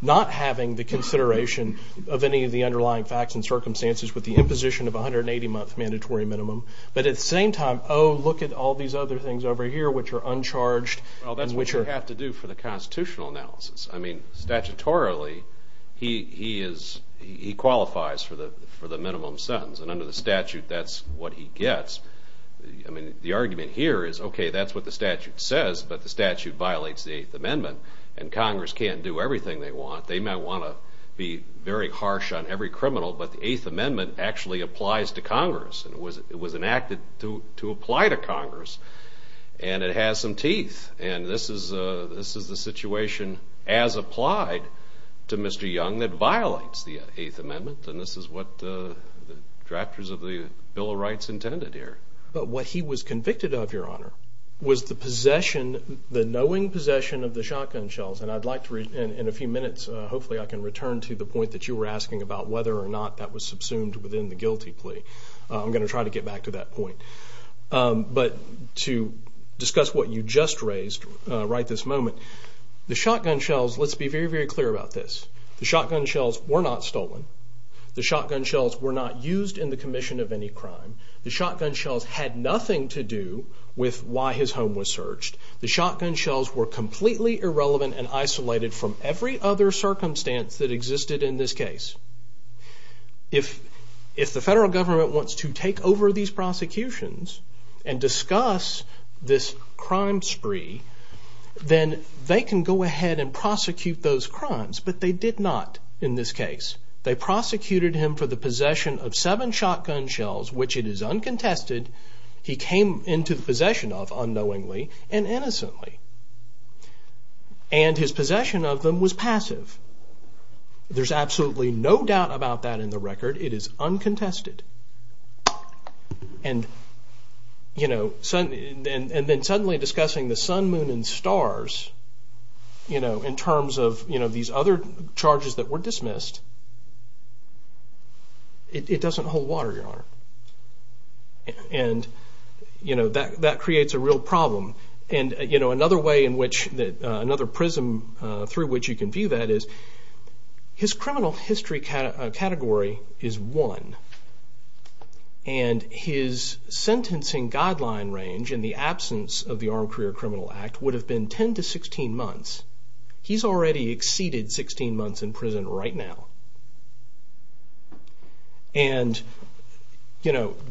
not having the consideration of any of the underlying facts and circumstances with the imposition of 180-month mandatory minimum, but at the same time, oh, look at all these other things over here which are uncharged. Well, that's what you have to do for the constitutional analysis. I mean, statutorily, he qualifies for the minimum sentence, and under the statute that's what he gets. I mean, the argument here is, okay, that's what the statute says, but the statute violates the Eighth Amendment, and Congress can't do everything they want. They might want to be very harsh on every criminal, but the Eighth Amendment actually applies to Congress. It was enacted to apply to Congress, and it has some teeth, and this is the situation as applied to Mr. Young that violates the Eighth Amendment, and this is what the drafters of the Bill of Rights intended here. But what he was convicted of, Your Honor, was the knowing possession of the shotgun shells, and I'd like to, in a few minutes, hopefully I can return to the point that you were asking about whether or not that was subsumed within the guilty plea. I'm going to try to get back to that point. But to discuss what you just raised right this moment, the shotgun shells, let's be very, very clear about this. The shotgun shells were not stolen. The shotgun shells were not used in the commission of any crime. The shotgun shells had nothing to do with why his home was searched. The shotgun shells were completely irrelevant and isolated from every other circumstance that existed in this case. If the federal government wants to take over these prosecutions and discuss this crime spree, then they can go ahead and prosecute those crimes, but they did not in this case. They prosecuted him for the possession of seven shotgun shells, which it is uncontested, he came into possession of unknowingly and innocently, and his possession of them was passive. There's absolutely no doubt about that in the record. It is uncontested. And then suddenly discussing the sun, moon, and stars in terms of these other charges that were dismissed, it doesn't hold water, Your Honor. And that creates a real problem. Another prism through which you can view that is his criminal history category is one, and his sentencing guideline range in the absence of the Armed Career Criminal Act would have been 10 to 16 months. He's already exceeded 16 months in prison right now. And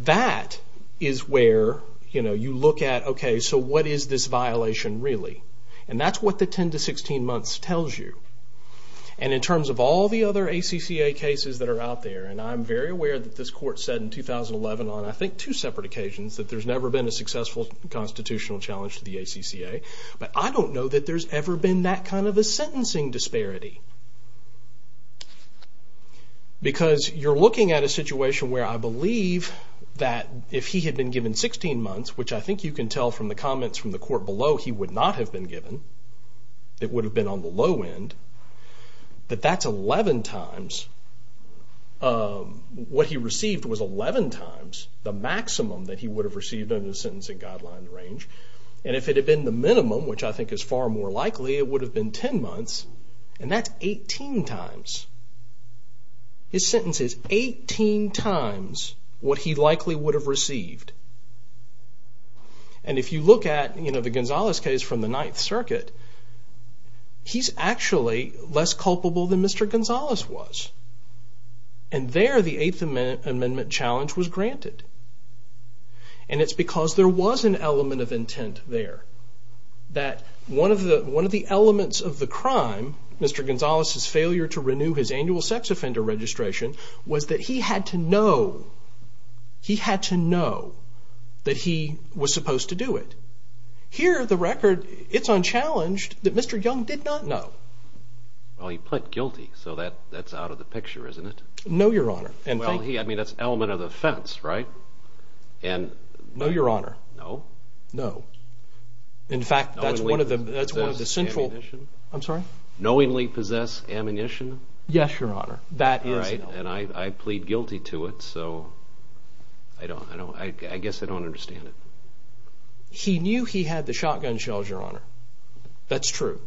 that is where you look at, okay, so what is this violation really? And that's what the 10 to 16 months tells you. And in terms of all the other ACCA cases that are out there, and I'm very aware that this court said in 2011 on I think two separate occasions that there's never been a successful constitutional challenge to the ACCA, but I don't know that there's ever been that kind of a sentencing disparity. Because you're looking at a situation where I believe that if he had been given 16 months, which I think you can tell from the comments from the court below, he would not have been given. It would have been on the low end. But that's 11 times. What he received was 11 times the maximum that he would have received under the sentencing guideline range. And if it had been the minimum, which I think is far more likely, it would have been 10 months. And that's 18 times. His sentence is 18 times what he likely would have received. And if you look at the Gonzales case from the Ninth Circuit, he's actually less culpable than Mr. Gonzales was. And there the Eighth Amendment challenge was granted. And it's because there was an element of intent there. That one of the elements of the crime, Mr. Gonzales' failure to renew his annual sex offender registration, was that he had to know that he was supposed to do it. Here, the record, it's unchallenged that Mr. Young did not know. Well, he pled guilty, so that's out of the picture, isn't it? No, Your Honor. I mean, that's an element of the offense, right? No, Your Honor. No? No. In fact, that's one of the central… Knowingly possess ammunition? I'm sorry? Knowingly possess ammunition? Yes, Your Honor. That is known. Right, and I plead guilty to it, so I guess I don't understand it. He knew he had the shotgun shells, Your Honor. That's true.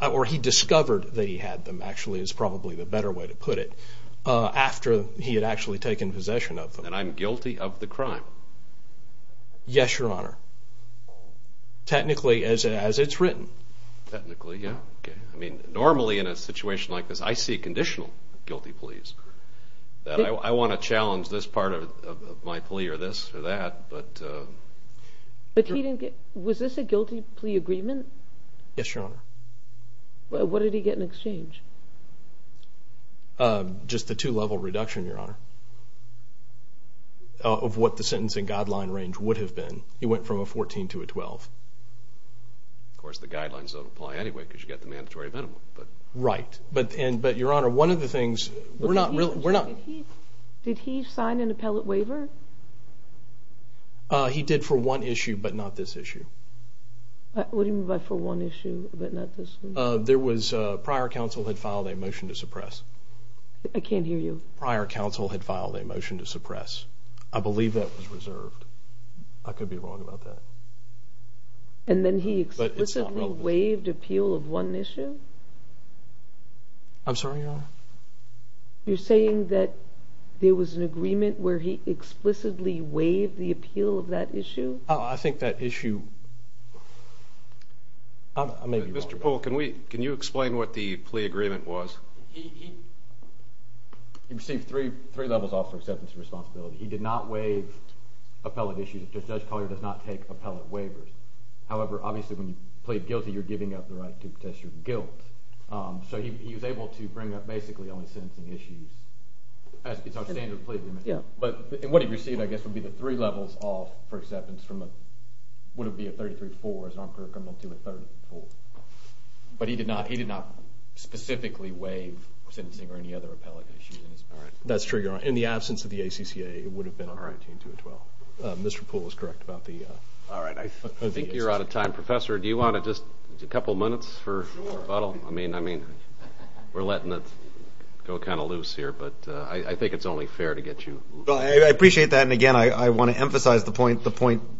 Or he discovered that he had them, actually, is probably the better way to put it, after he had actually taken possession of them. And I'm guilty of the crime. Yes, Your Honor. Technically, as it's written. Technically, yeah. Okay. I mean, normally in a situation like this, I see conditional guilty pleas. I want to challenge this part of my plea or this or that, but… But he didn't get… Was this a guilty plea agreement? Yes, Your Honor. What did he get in exchange? Just a two-level reduction, Your Honor, of what the sentencing guideline range would have been. He went from a 14 to a 12. Of course, the guidelines don't apply anyway because you've got the mandatory minimum. Right. But, Your Honor, one of the things… Did he sign an appellate waiver? He did for one issue, but not this issue. What do you mean by for one issue, but not this one? Prior counsel had filed a motion to suppress. I can't hear you. Prior counsel had filed a motion to suppress. I believe that was reserved. I could be wrong about that. And then he explicitly waived appeal of one issue? I'm sorry, Your Honor? You're saying that there was an agreement where he explicitly waived the appeal of that issue? I think that issue… Mr. Poole, can you explain what the plea agreement was? He received three levels off for acceptance of responsibility. He did not waive appellate issues. Judge Collier does not take appellate waivers. However, obviously, when you plead guilty, you're giving up the right to protest your guilt. So he was able to bring up basically only sentencing issues. It's our standard plea agreement. But what he received, I guess, would be the three levels off for acceptance from what would be a 33-4 as an on-court criminal to a 34. But he did not specifically waive sentencing or any other appellate issues. That's true, Your Honor. In the absence of the ACCA, it would have been a 19-12. Mr. Poole is correct about the… All right, I think you're out of time. Professor, do you want just a couple minutes for rebuttal? I mean, we're letting it go kind of loose here. But I think it's only fair to get you… Well, I appreciate that. And, again, I want to emphasize the point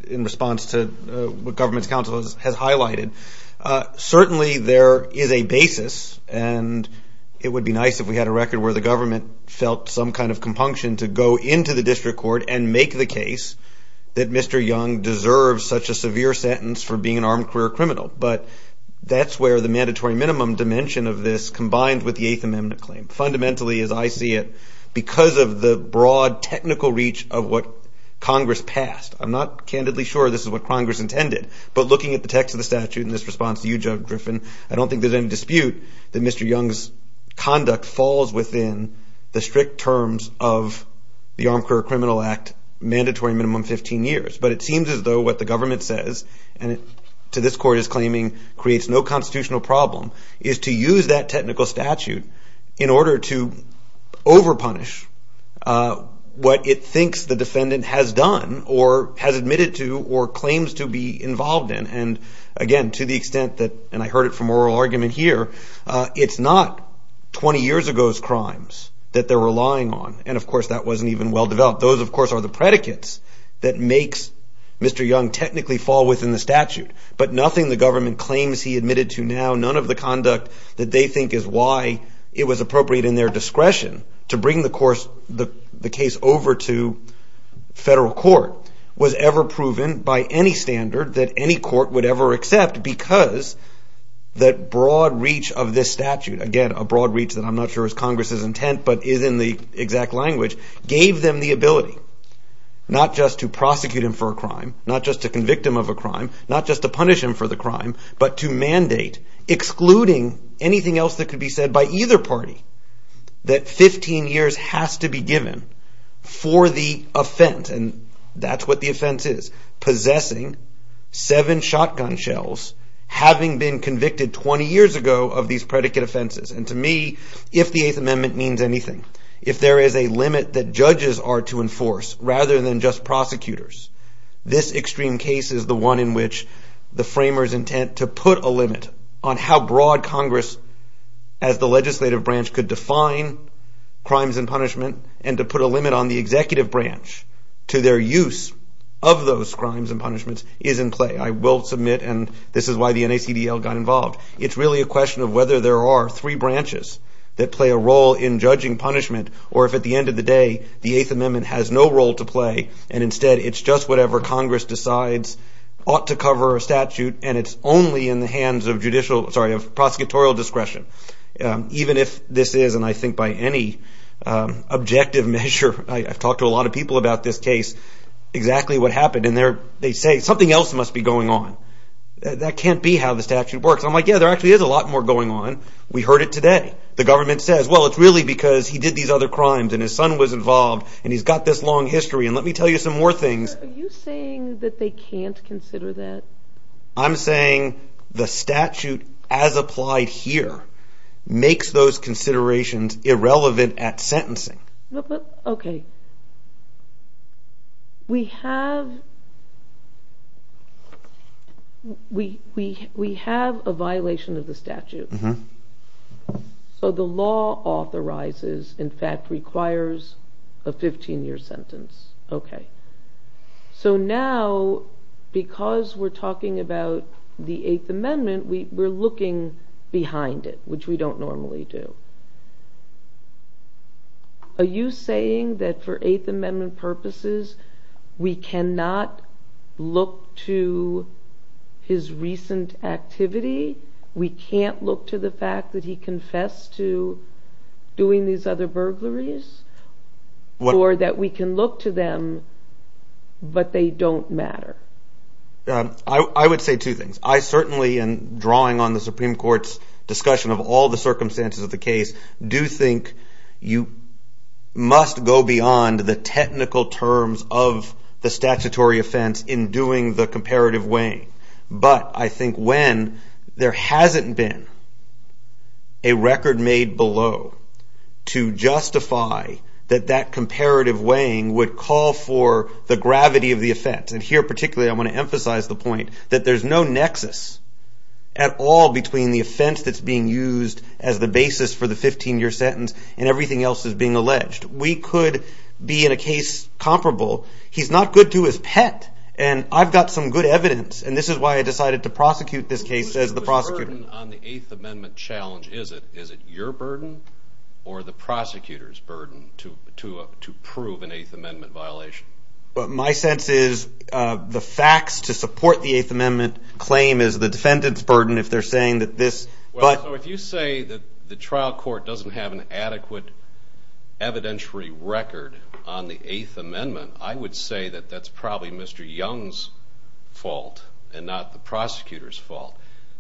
in response to what government's counsel has highlighted. Certainly, there is a basis, and it would be nice if we had a record where the government felt some kind of compunction to go into the district court and make the case that Mr. Young deserves such a severe sentence for being an armed career criminal. But that's where the mandatory minimum dimension of this combined with the Eighth Amendment claim. Fundamentally, as I see it, because of the broad technical reach of what Congress passed. I'm not candidly sure this is what Congress intended. But looking at the text of the statute and this response to you, Judge Griffin, I don't think there's any dispute that Mr. Young's conduct falls within the strict terms of the Armed Career Criminal Act, mandatory minimum 15 years. But it seems as though what the government says, and to this court is claiming creates no constitutional problem, is to use that technical statute in order to over-punish what it thinks the defendant has done or has admitted to or claims to be involved in. And, again, to the extent that, and I heard it from oral argument here, it's not 20 years ago's crimes that they're relying on. And, of course, that wasn't even well-developed. Those, of course, are the predicates that makes Mr. Young technically fall within the statute. But nothing the government claims he admitted to now, none of the conduct that they think is why it was appropriate in their discretion to bring the case over to federal court, was ever proven by any standard that any court would ever accept because that broad reach of this statute, again, a broad reach that I'm not sure is Congress's intent but is in the exact language, gave them the ability not just to prosecute him for a crime, not just to convict him of a crime, not just to punish him for the crime, but to mandate, excluding anything else that could be said by either party that 15 years has to be given for the offense. And that's what the offense is, possessing seven shotgun shells, having been convicted 20 years ago of these predicate offenses. And, to me, if the Eighth Amendment means anything, if there is a limit that judges are to enforce rather than just prosecutors, this extreme case is the one in which the framers' intent to put a limit on how broad Congress as the legislative branch could define crimes and punishment and to put a limit on the executive branch to their use of those crimes and punishments is in play. I will submit, and this is why the NACDL got involved, it's really a question of whether there are three branches that play a role in judging punishment or if at the end of the day the Eighth Amendment has no role to play and instead it's just whatever Congress decides ought to cover a statute and it's only in the hands of prosecutorial discretion. Even if this is, and I think by any objective measure, I've talked to a lot of people about this case, exactly what happened, and they say something else must be going on. That can't be how the statute works. I'm like, yeah, there actually is a lot more going on. We heard it today. The government says, well, it's really because he did these other crimes and his son was involved and he's got this long history. And let me tell you some more things. Are you saying that they can't consider that? I'm saying the statute as applied here makes those considerations irrelevant at sentencing. Okay. We have a violation of the statute. So the law authorizes, in fact requires, a 15-year sentence. Okay. So now because we're talking about the Eighth Amendment, we're looking behind it, which we don't normally do. Are you saying that for Eighth Amendment purposes we cannot look to his recent activity? We can't look to the fact that he confessed to doing these other burglaries? Or that we can look to them but they don't matter? I would say two things. I certainly, in drawing on the Supreme Court's discussion of all the circumstances of the case, do think you must go beyond the technical terms of the statutory offense in doing the comparative weighing. But I think when there hasn't been a record made below to justify that that comparative weighing would call for the gravity of the offense, and here particularly I want to emphasize the point that there's no nexus at all between the offense that's being used as the basis for the 15-year sentence and everything else that's being alleged. We could be in a case comparable. He's not good to his pet and I've got some good evidence and this is why I decided to prosecute this case as the prosecutor. The burden on the Eighth Amendment challenge, is it your burden or the prosecutor's burden to prove an Eighth Amendment violation? My sense is the facts to support the Eighth Amendment claim is the defendant's burden. If you say that the trial court doesn't have an adequate evidentiary record on the Eighth Amendment, I would say that that's probably Mr. Young's fault and not the prosecutor's fault.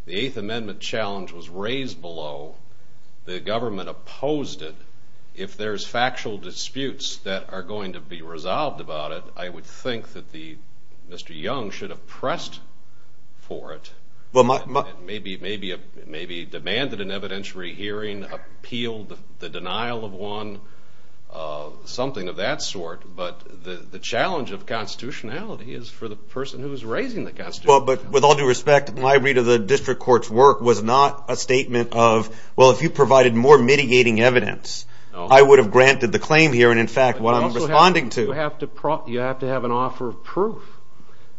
The Eighth Amendment challenge was raised below. The government opposed it. If there's factual disputes that are going to be resolved about it, I would think that Mr. Young should have pressed for it, maybe demanded an evidentiary hearing, appealed the denial of one, something of that sort. But the challenge of constitutionality is for the person who's raising the constitutionality. With all due respect, my read of the district court's work was not a statement of, well, if you provided more mitigating evidence, I would have granted the claim here. In fact, what I'm responding to... You have to have an offer of proof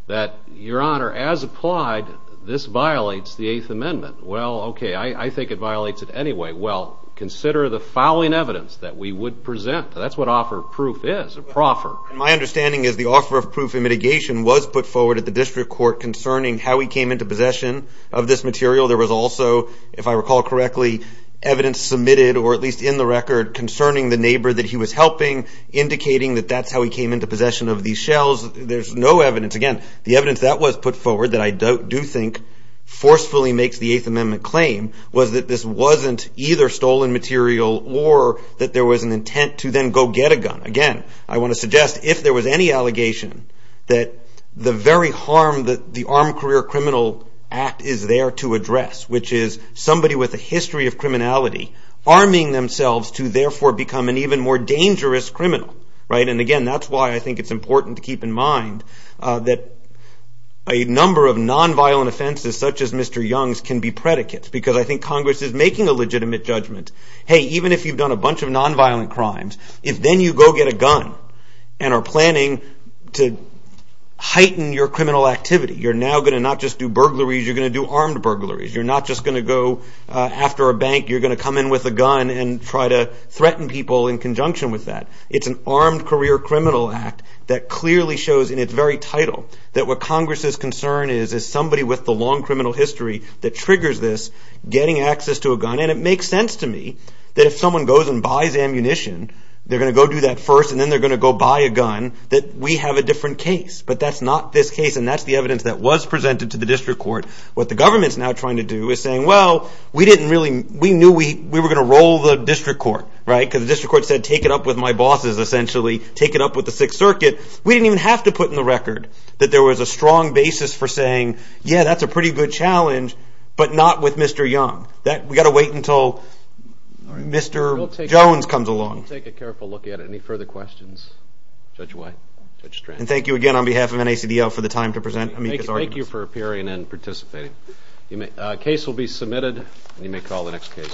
that, Your Honor, as applied, this violates the Eighth Amendment. Well, okay, I think it violates it anyway. Well, consider the fouling evidence that we would present. That's what offer of proof is, a proffer. My understanding is the offer of proof in mitigation was put forward at the district court concerning how he came into possession of this material. There was also, if I recall correctly, evidence submitted, or at least in the record, concerning the neighbor that he was helping, indicating that that's how he came into possession of these shells. There's no evidence. Again, the evidence that was put forward that I do think forcefully makes the Eighth Amendment claim was that this wasn't either stolen material or that there was an intent to then go get a gun. Again, I want to suggest, if there was any allegation, that the very harm that the Armed Career Criminal Act is there to address, which is somebody with a history of criminality arming themselves to, therefore, become an even more dangerous criminal. Again, that's why I think it's important to keep in mind that a number of nonviolent offenses, such as Mr. Young's, can be predicates, because I think Congress is making a legitimate judgment. Hey, even if you've done a bunch of nonviolent crimes, if then you go get a gun and are planning to heighten your criminal activity, you're now going to not just do burglaries, you're going to do armed burglaries. You're not just going to go after a bank. You're going to come in with a gun and try to threaten people in conjunction with that. It's an Armed Career Criminal Act that clearly shows in its very title that what Congress's concern is is somebody with a long criminal history that triggers this, getting access to a gun. And it makes sense to me that if someone goes and buys ammunition, they're going to go do that first, and then they're going to go buy a gun, that we have a different case. But that's not this case, and that's the evidence that was presented to the district court. What the government is now trying to do is saying, well, we knew we were going to roll the district court, right? Because the district court said, take it up with my bosses, essentially. Take it up with the Sixth Circuit. We didn't even have to put in the record that there was a strong basis for saying, yeah, that's a pretty good challenge, but not with Mr. Young. We've got to wait until Mr. Jones comes along. We'll take a careful look at it. Any further questions? Judge White? Judge Strand? And thank you again on behalf of NACDL for the time to present amicus arguments. Thank you for appearing and participating. The case will be submitted, and you may call the next case.